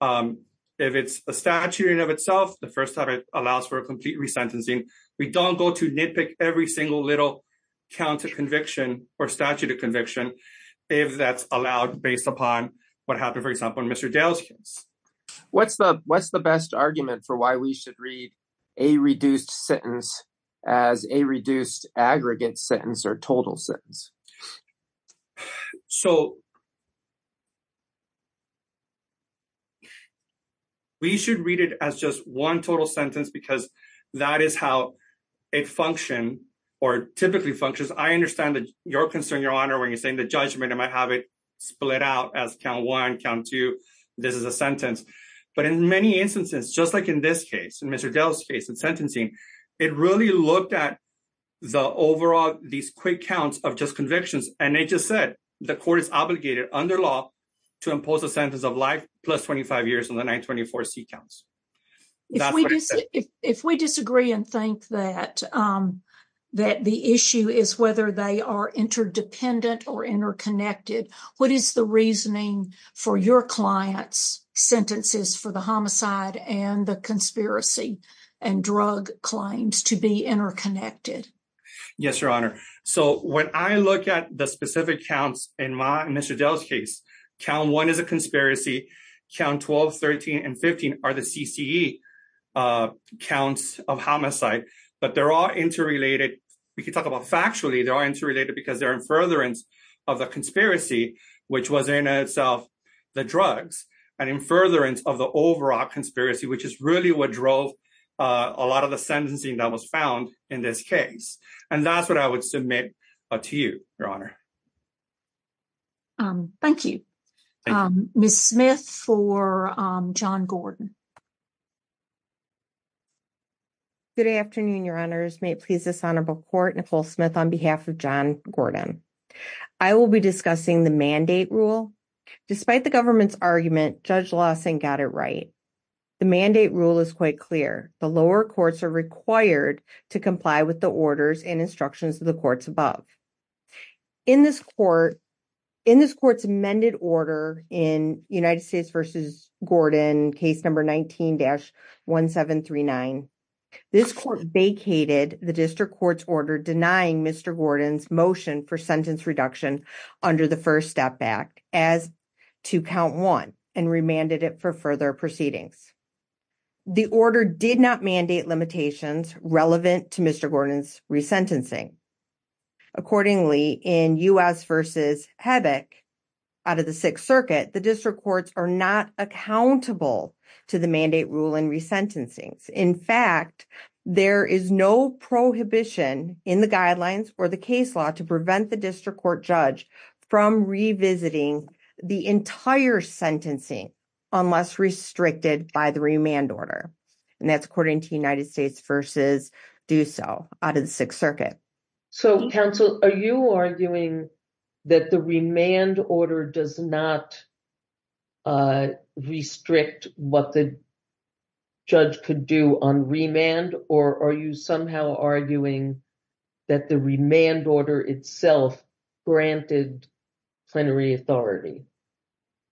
if it's a statute in and of itself, the first time it allows for a complete resentencing, we don't go to nitpick every single little count of conviction or statute of conviction if that's allowed based upon what happened, for example, on Mr. Dale's case. What's the best argument for why we should read a reduced sentence as a reduced aggregate sentence or total sentence? So we should read it as just one total sentence because that is how it functions or typically functions. I understand that you're concerned, Your Honor, when you're saying the judgment, it might have it split out as count one, count two, this is a sentence. But in many instances, just like in this case, in Mr. Dale's case of sentencing, it really looked at the overall, these quick counts of just convictions. And it just said the court is obligated under law to impose a sentence of life plus 25 years in the 924C counts. If we disagree and think that the issue is whether they are interdependent or interconnected, what is the reasoning for your client's sentences for the homicide and the conspiracy and drug claims to be interconnected? Yes, Your Honor. So when I look at the specific counts in Mr. Dale's case, count one is a 924C counts of homicide, but they're all interrelated. We could talk about factually, they are interrelated because they're in furtherance of the conspiracy, which was in itself the drugs and in furtherance of the overall conspiracy, which is really what drove a lot of the sentencing that was found in this case. And that's what I would submit to you, Your Honor. Thank you. Ms. Smith for John Gordon. Good afternoon, Your Honors. May it please the Senate of the Court, Nicole Smith on behalf of John Gordon. I will be discussing the mandate rule. Despite the government's argument, Judge Lawson got it right. The mandate rule is quite clear. The lower courts are required to comply with the orders and instructions of the courts above. In this court's amended order in United States v. Gordon, case number 19-1739, this court vacated the district court's order denying Mr. Gordon's motion for sentence reduction under the First Step Act as to count one and remanded it for further proceedings. The order did not mandate limitations relevant to Mr. Gordon's resentencing. Accordingly, in U.S. v. Hebbock out of the Sixth Circuit, the district courts are not accountable to the mandate rule in resentencing. In fact, there is no prohibition in the guidelines for the case law to prevent the district court judge from revisiting the entire sentencing unless restricted by the remand order. And that's according to United States v. Doosall out of the Sixth Circuit. So, counsel, are you arguing that the remand order does not restrict what the judge could do on remand? Or are you somehow arguing that the remand order itself granted plenary authority?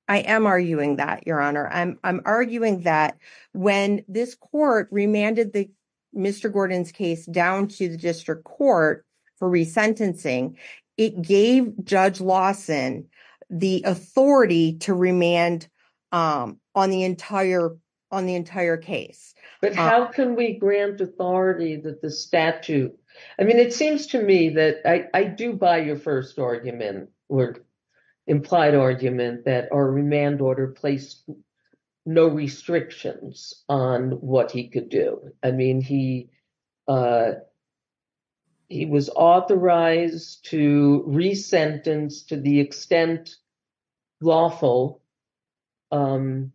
I am arguing that, Your Honor. I'm arguing that when this court remanded Mr. Gordon's case down to the district court for resentencing, it gave Judge Lawson the authority to remand on the entire case. But how can we grant authority with the statute? I mean, it seems to me that I do buy your first argument or implied argument that our remand order placed no restrictions on what he could do. I mean, he was authorized to resentence to the extent lawful on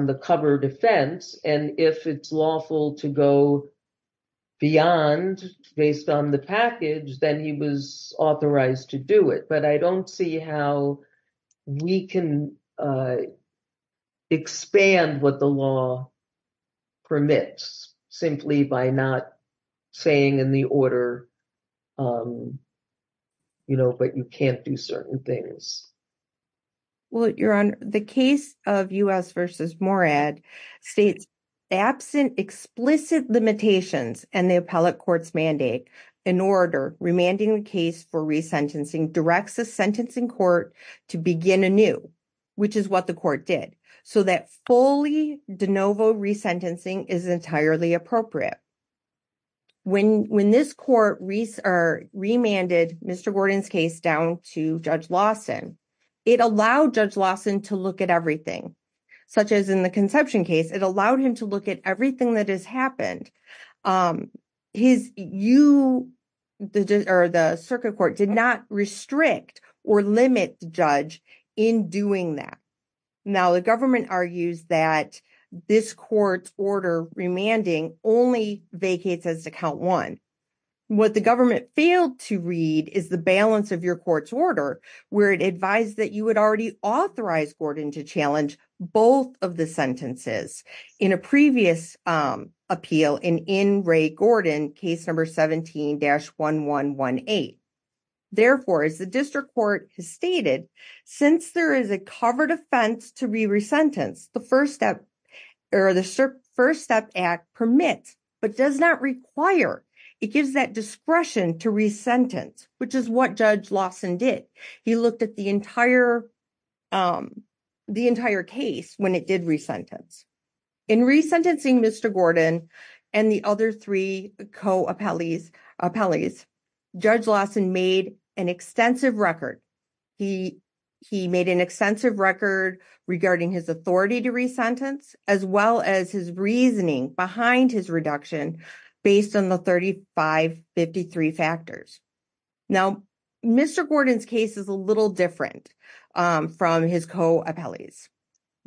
the covered offense. And if it's lawful to go beyond based on the package, then he was authorized to do it. But I don't see how we can expand what the law permits simply by not saying in the order, you know, but you can't do certain things. Well, Your Honor, the case of U.S. v. Morad states absent explicit limitations in the remanding case for resentencing directs the sentencing court to begin anew, which is what the court did. So that fully de novo resentencing is entirely appropriate. When this court remanded Mr. Gordon's case down to Judge Lawson, it allowed Judge Lawson to look at everything, such as in the conception case, it allowed him to look at everything that has happened. His, you, or the circuit court did not restrict or limit the judge in doing that. Now, the government argues that this court's order remanding only vacates as to count one. What the government failed to read is the balance of your court's order, where it advised that you would already authorize Gordon to challenge both of the sentences. In a previous appeal, Judge Lawson re-sentenced Mr. Gordon's case to the first step act, which is what Judge Lawson did in in Ray Gordon case number 17-1118. Therefore, as the district court has stated, since there is a covered offense to re-resentence, the first step or the first step act permits, but does not require, it gives that the entire case when it did re-sentence. In re-sentencing Mr. Gordon and the other three co-appellees, Judge Lawson made an extensive record. He made an extensive record regarding his authority to re-sentence, as well as his reasoning behind his reduction based on the 3553 factors. Now, Mr. Gordon's case is a little different from his co-appellees.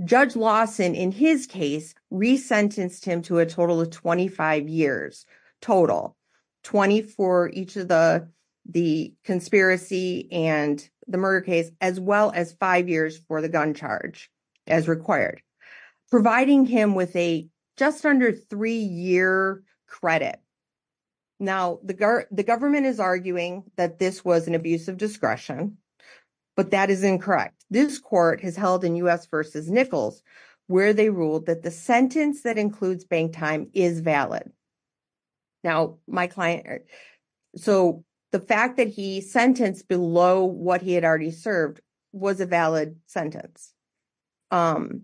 Judge Lawson, in his case, re-sentenced him to a total of 25 years total, 20 for each of the conspiracy and the murder case, as well as five years for the gun charge as required, providing him with a under three-year credit. Now, the government is arguing that this was an abuse of discretion, but that is incorrect. This court has held in U.S. v. Nichols where they ruled that the sentence that includes bank time is valid. Now, my client, so the fact that he sentenced below what he had served was a valid sentence. Now,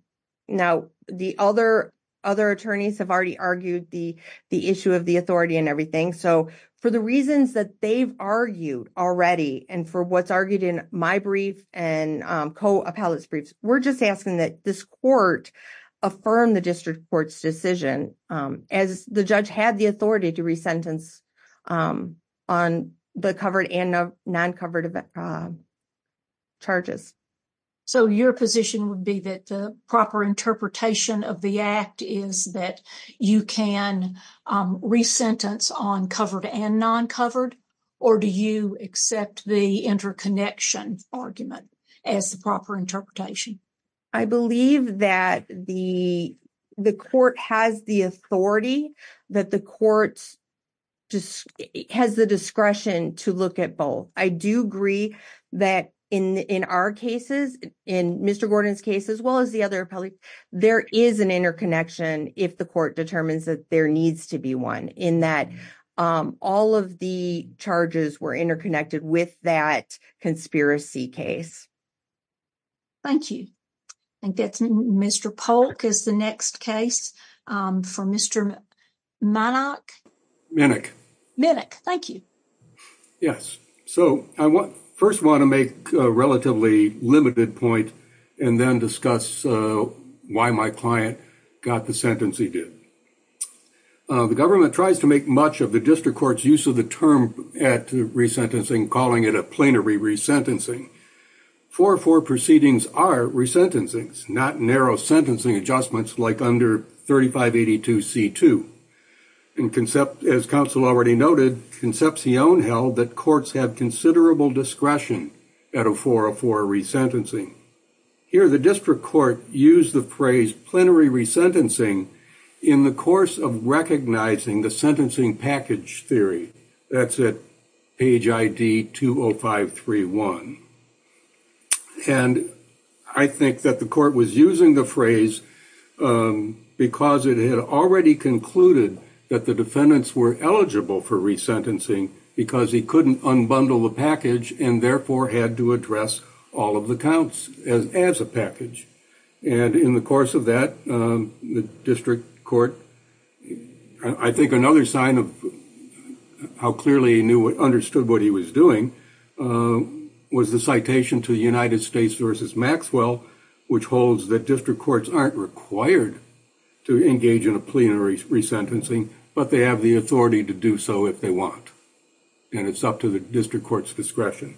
the other attorneys have already argued the issue of the authority and everything. So, for the reasons that they've argued already, and for what's argued in my briefs and co-appellate's briefs, we're just asking that this court affirm the district court's as the judge had the authority to re-sentence on the covered and non-covered charges. So, your position would be that the proper interpretation of the act is that you can re-sentence on covered and non-covered, or do you accept the interconnection argument as the proper interpretation? I believe that the court has the authority that the court has the discretion to look at both. I do agree that in our cases, in Mr. Gordon's case, as well as the other appellate's, there is an interconnection if the court determines that there needs to be one in that all of the charges were interconnected with that conspiracy case. Thank you. I guess Mr. Polk is the next case for Mr. Monach. Monach. Monach, thank you. Yes. So, I first want to make a relatively limited point and then discuss why my client got the sentence he did. The government tries to make much of the district court's use of the term at re-sentencing, calling it a plenary re-sentencing. 404 proceedings are re-sentencing, not narrow sentencing adjustments like under 3582C2. As counsel already noted, Concepcion held that courts have considerable discretion at a 404 re-sentencing. Here, the district court used the phrase plenary re-sentencing in the course of recognizing the sentencing package theory. That's at page ID 20531. And I think that the court was using the phrase because it had already concluded that the defendants were eligible for re-sentencing because he couldn't unbundle the package and therefore had to address all of the counts as a package. And in the course of that, the district court, I think another sign of how clearly he understood what he was doing was the citation to the United States versus Maxwell, which holds that district courts aren't required to engage in a plenary re-sentencing, but they have the authority to do so if they want. And it's up to the district court's discretion.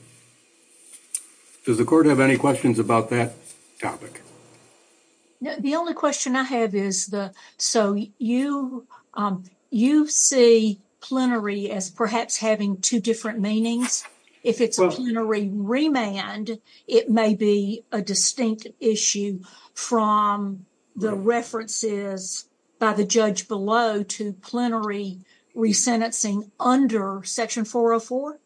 Does the court have any questions about that topic? The only question I have is, so you see plenary as perhaps having two different meanings? If it's a plenary remand, it may be a distinct issue from the references by the judge below to plenary re-sentencing under section 404?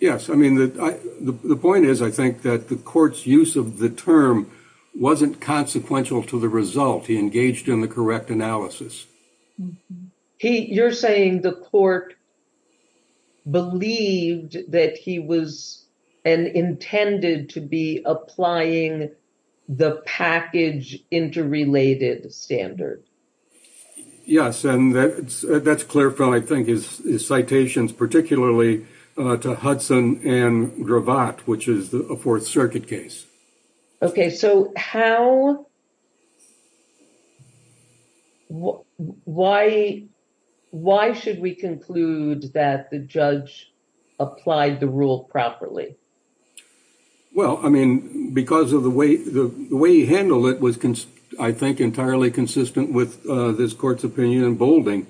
Yes. I mean, the point is, I think that the court's use of the term wasn't consequential to the result. He engaged in the correct analysis. You're saying the court believed that he was and intended to be applying the package interrelated standard? Yes. And that's clear from, I think, his citations, particularly to Hudson and Gravatt, which is a Fourth Circuit case. Okay. So, why should we that the judge applied the rule properly? Well, I mean, because of the way he handled it was, I think, entirely consistent with this court's opinion in Boulding.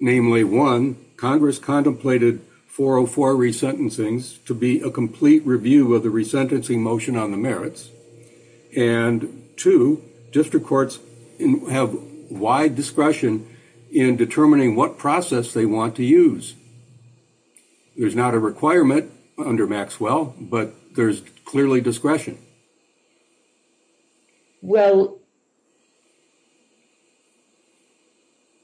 Namely, one, Congress contemplated 404 re-sentencings to be a complete review of the re-sentencing motion on the merits. And two, district courts have wide discretion in determining what process they want to use. There's not a requirement under Maxwell, but there's clearly discretion. Well,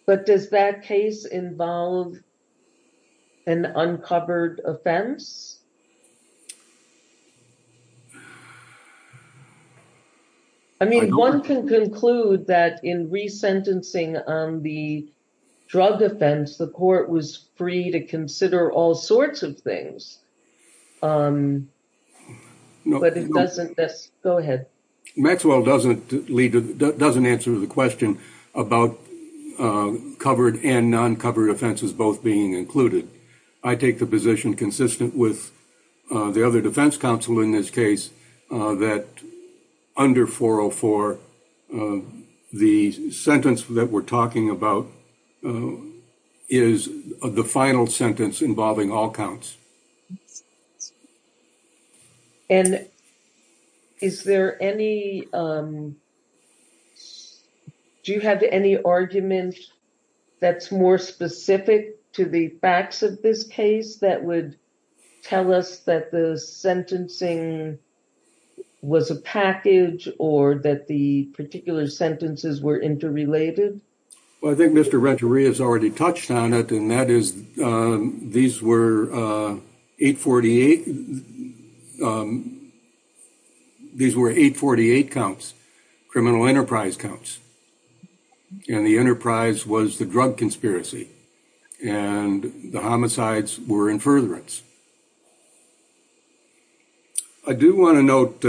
but does that case involve an uncovered offense? I mean, one can conclude that in re-sentencing on the drug offense, the court was free to consider all sorts of things. But it doesn't... Go ahead. Maxwell doesn't answer the question about covered and non-covered offenses both being included. I take the position consistent with the other defense counsel in this case that under 404, the sentence that we're talking about is the final sentence involving all counts. And is there any... Do you have any arguments that's more specific to the facts of this case that would tell us that the sentencing was a package or that the particular sentences were interrelated? Well, I think Mr. Renteria has already touched on it and that is these were 848 counts, criminal enterprise counts. And the enterprise was the drug conspiracy. And the homicides were in furtherance. I do want to note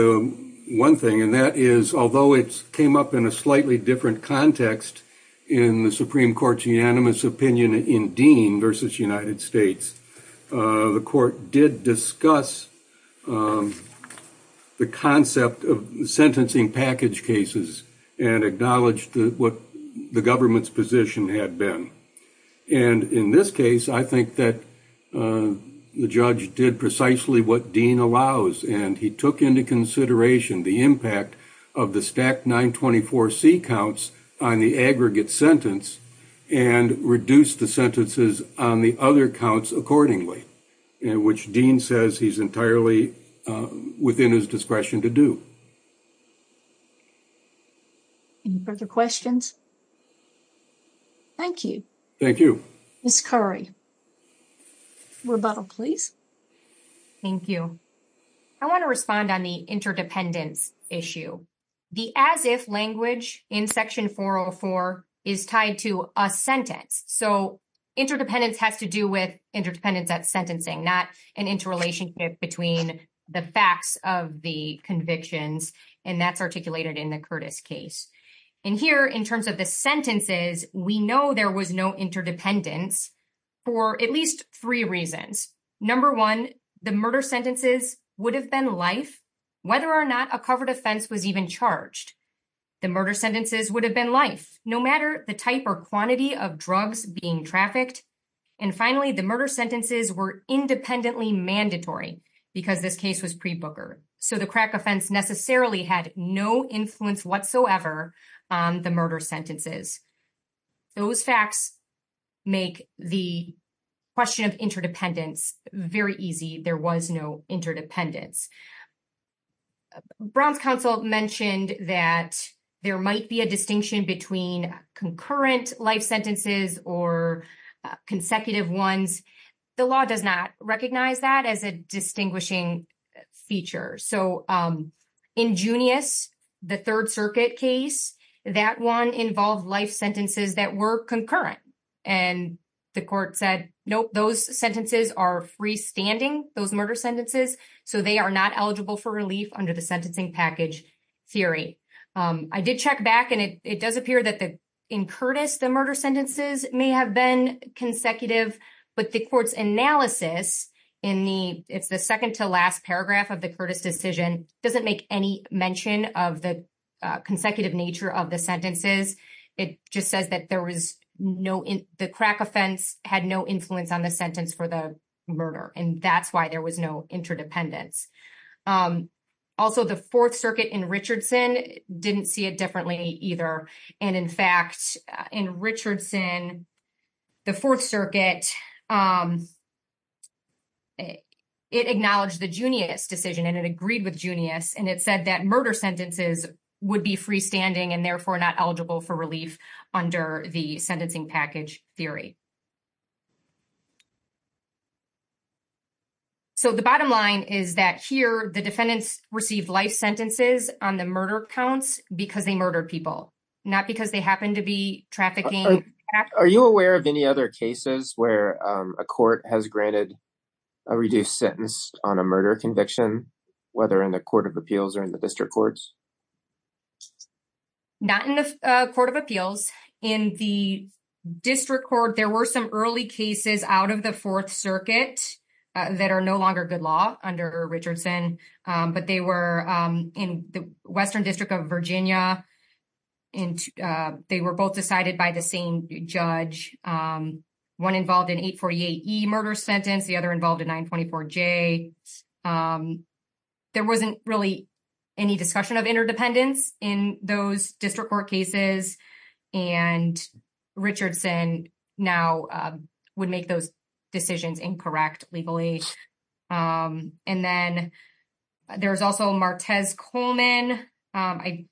one thing, and that is, although it came up in a slightly different context in the Supreme Court's unanimous opinion in Dean versus United States, the court did discuss the concept of sentencing package cases and acknowledged what the government's position had been. And in this case, I think that the judge did precisely what Dean allows, and he took into consideration the impact of the stacked 924C counts on the aggregate sentence and reduced the sentences on the other counts accordingly, in which Dean says he's entirely within his discretion to do. Any further questions? Thank you. Thank you. Ms. Curry. Rebuttal, please. Thank you. I want to respond on the interdependence issue. The as-if language in section 404 is tied to a sentence. So interdependence has to do with interdependence of sentencing, not an interrelationship between the facts of the convictions, and that's articulated in the Curtis case. And here, in terms of the sentences, we know there was no interdependence for at least three reasons. Number one, the murder sentences would have been life, whether or not a covered offense was even charged. The murder sentences would have been life, no matter the type or quantity of drugs being trafficked. And finally, the murder sentences were independently mandatory because this case was pre-booker. So the crack offense necessarily had no influence whatsoever on the murder sentences. Those facts make the question of interdependence very easy. There was no interdependence. Brown's counsel mentioned that there might be a distinction between concurrent life sentences or consecutive ones. The law does not recognize that as a distinguishing feature. So in Junius, the Third Circuit case, that one involved life sentences that were concurrent, and the court said, nope, those sentences are freestanding, those murder sentences, so they are not eligible for relief under the sentencing package theory. I did check back, and it does appear that in Curtis, the murder sentences may have been consecutive, but the analysis in the second to last paragraph of the Curtis decision doesn't make any mention of the consecutive nature of the sentences. It just says that the crack offense had no influence on the sentence for the murder, and that's why there was no interdependence. Also, the Fourth Circuit in Richardson didn't see it differently either. And in fact, in Richardson, the Fourth Circuit, it acknowledged the Junius decision, and it agreed with Junius, and it said that murder sentences would be freestanding and therefore not eligible for relief under the sentencing package theory. So the bottom line is that here, the defendants received life sentences on the murder counts because they murdered people, not because they happened to be trafficking. Are you aware of any other cases where a court has granted a reduced sentence on a murder conviction, whether in the Court of Appeals or in the District Courts? Not in the Court of Appeals. In the District Court, there were some early cases out of the Fourth Circuit that are no longer good law under Richardson, but they were in the Western District of Virginia, and they were both decided by the same judge. One involved in 848E murder sentence, the other involved in 924J. There wasn't really any discussion of interdependence in those District Court cases, and Richardson now would make those decisions incorrectly. And then there's also Martez-Coleman. I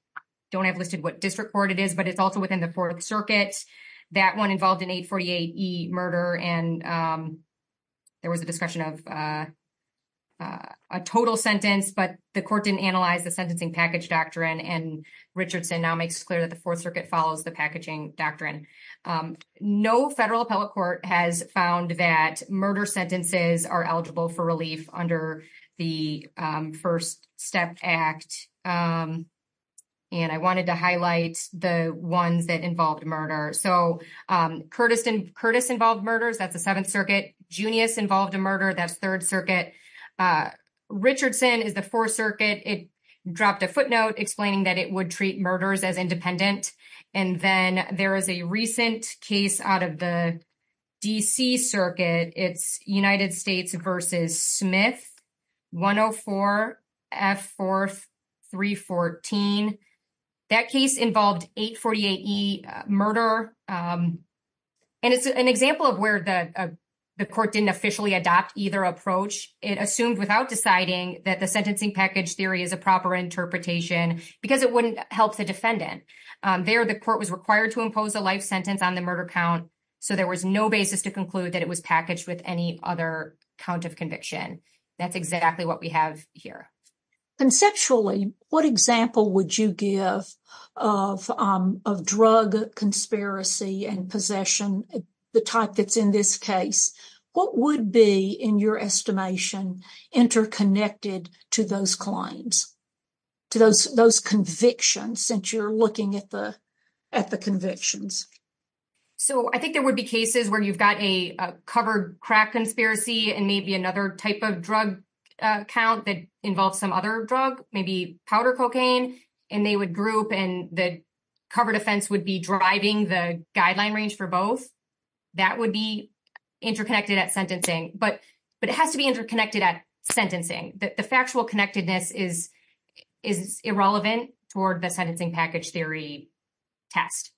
don't have listed what District Court it is, but it's also within the Fourth Circuit. That one involved in 848E murder, and there was a discussion of a total sentence, but the court didn't analyze the sentencing package doctrine, and Richardson now makes clear that the Fourth Circuit follows the packaging doctrine. No federal appellate court has found that murder sentences are eligible for relief under the First Step Act, and I wanted to highlight the ones that involved murder. So, Curtis involved murder. That's the Seventh Circuit. Junius involved a murder. That's Third Circuit. Richardson is the Fourth Circuit. It dropped a footnote explaining that it would treat murders as independent, and then there is a recent case out of the D.C. Circuit. It's United States v. Smith, 104F4314. That case involved 848E murder, and it's an example of where the court didn't officially adopt either approach. It assumed without deciding that the sentencing package theory is a proper interpretation because it wouldn't help the defendant. There, the court was required to impose a life sentence on the murder count, so there was no basis to conclude that it was packaged with any other count of conviction. That's exactly what we have here. Conceptually, what example would you give of drug conspiracy and possession, the type that's in this case? What would be, in your estimation, interconnected to those claims, to those convictions, since you're looking at the convictions? So, I think there would be cases where you've got a covered crack conspiracy and maybe another type of drug count that involves some other drug, maybe powder cocaine, and they would group and the covered offense would be driving the guideline range for both. That would be interconnected at sentencing, but it has to be interconnected at sentencing. The factual connectedness is irrelevant toward the sentencing package theory text.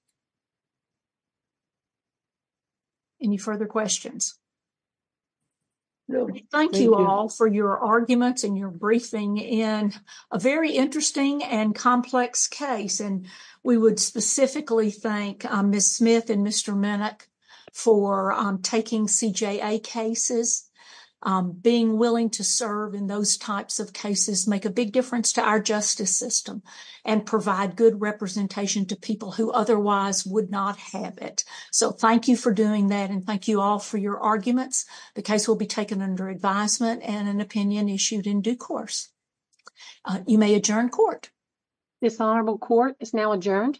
Any further questions? Thank you all for your arguments and your briefing in a very interesting and complex case, and we would specifically thank Ms. Smith and Mr. Minnick for taking CJA cases. Being willing to serve in those types of cases make a big difference to our justice system and provide good representation to people who otherwise would not have it. So, thank you for doing that, and thank you all for your arguments. The case will be taken under advisement and an issued in due course. You may adjourn court. The final court is now adjourned.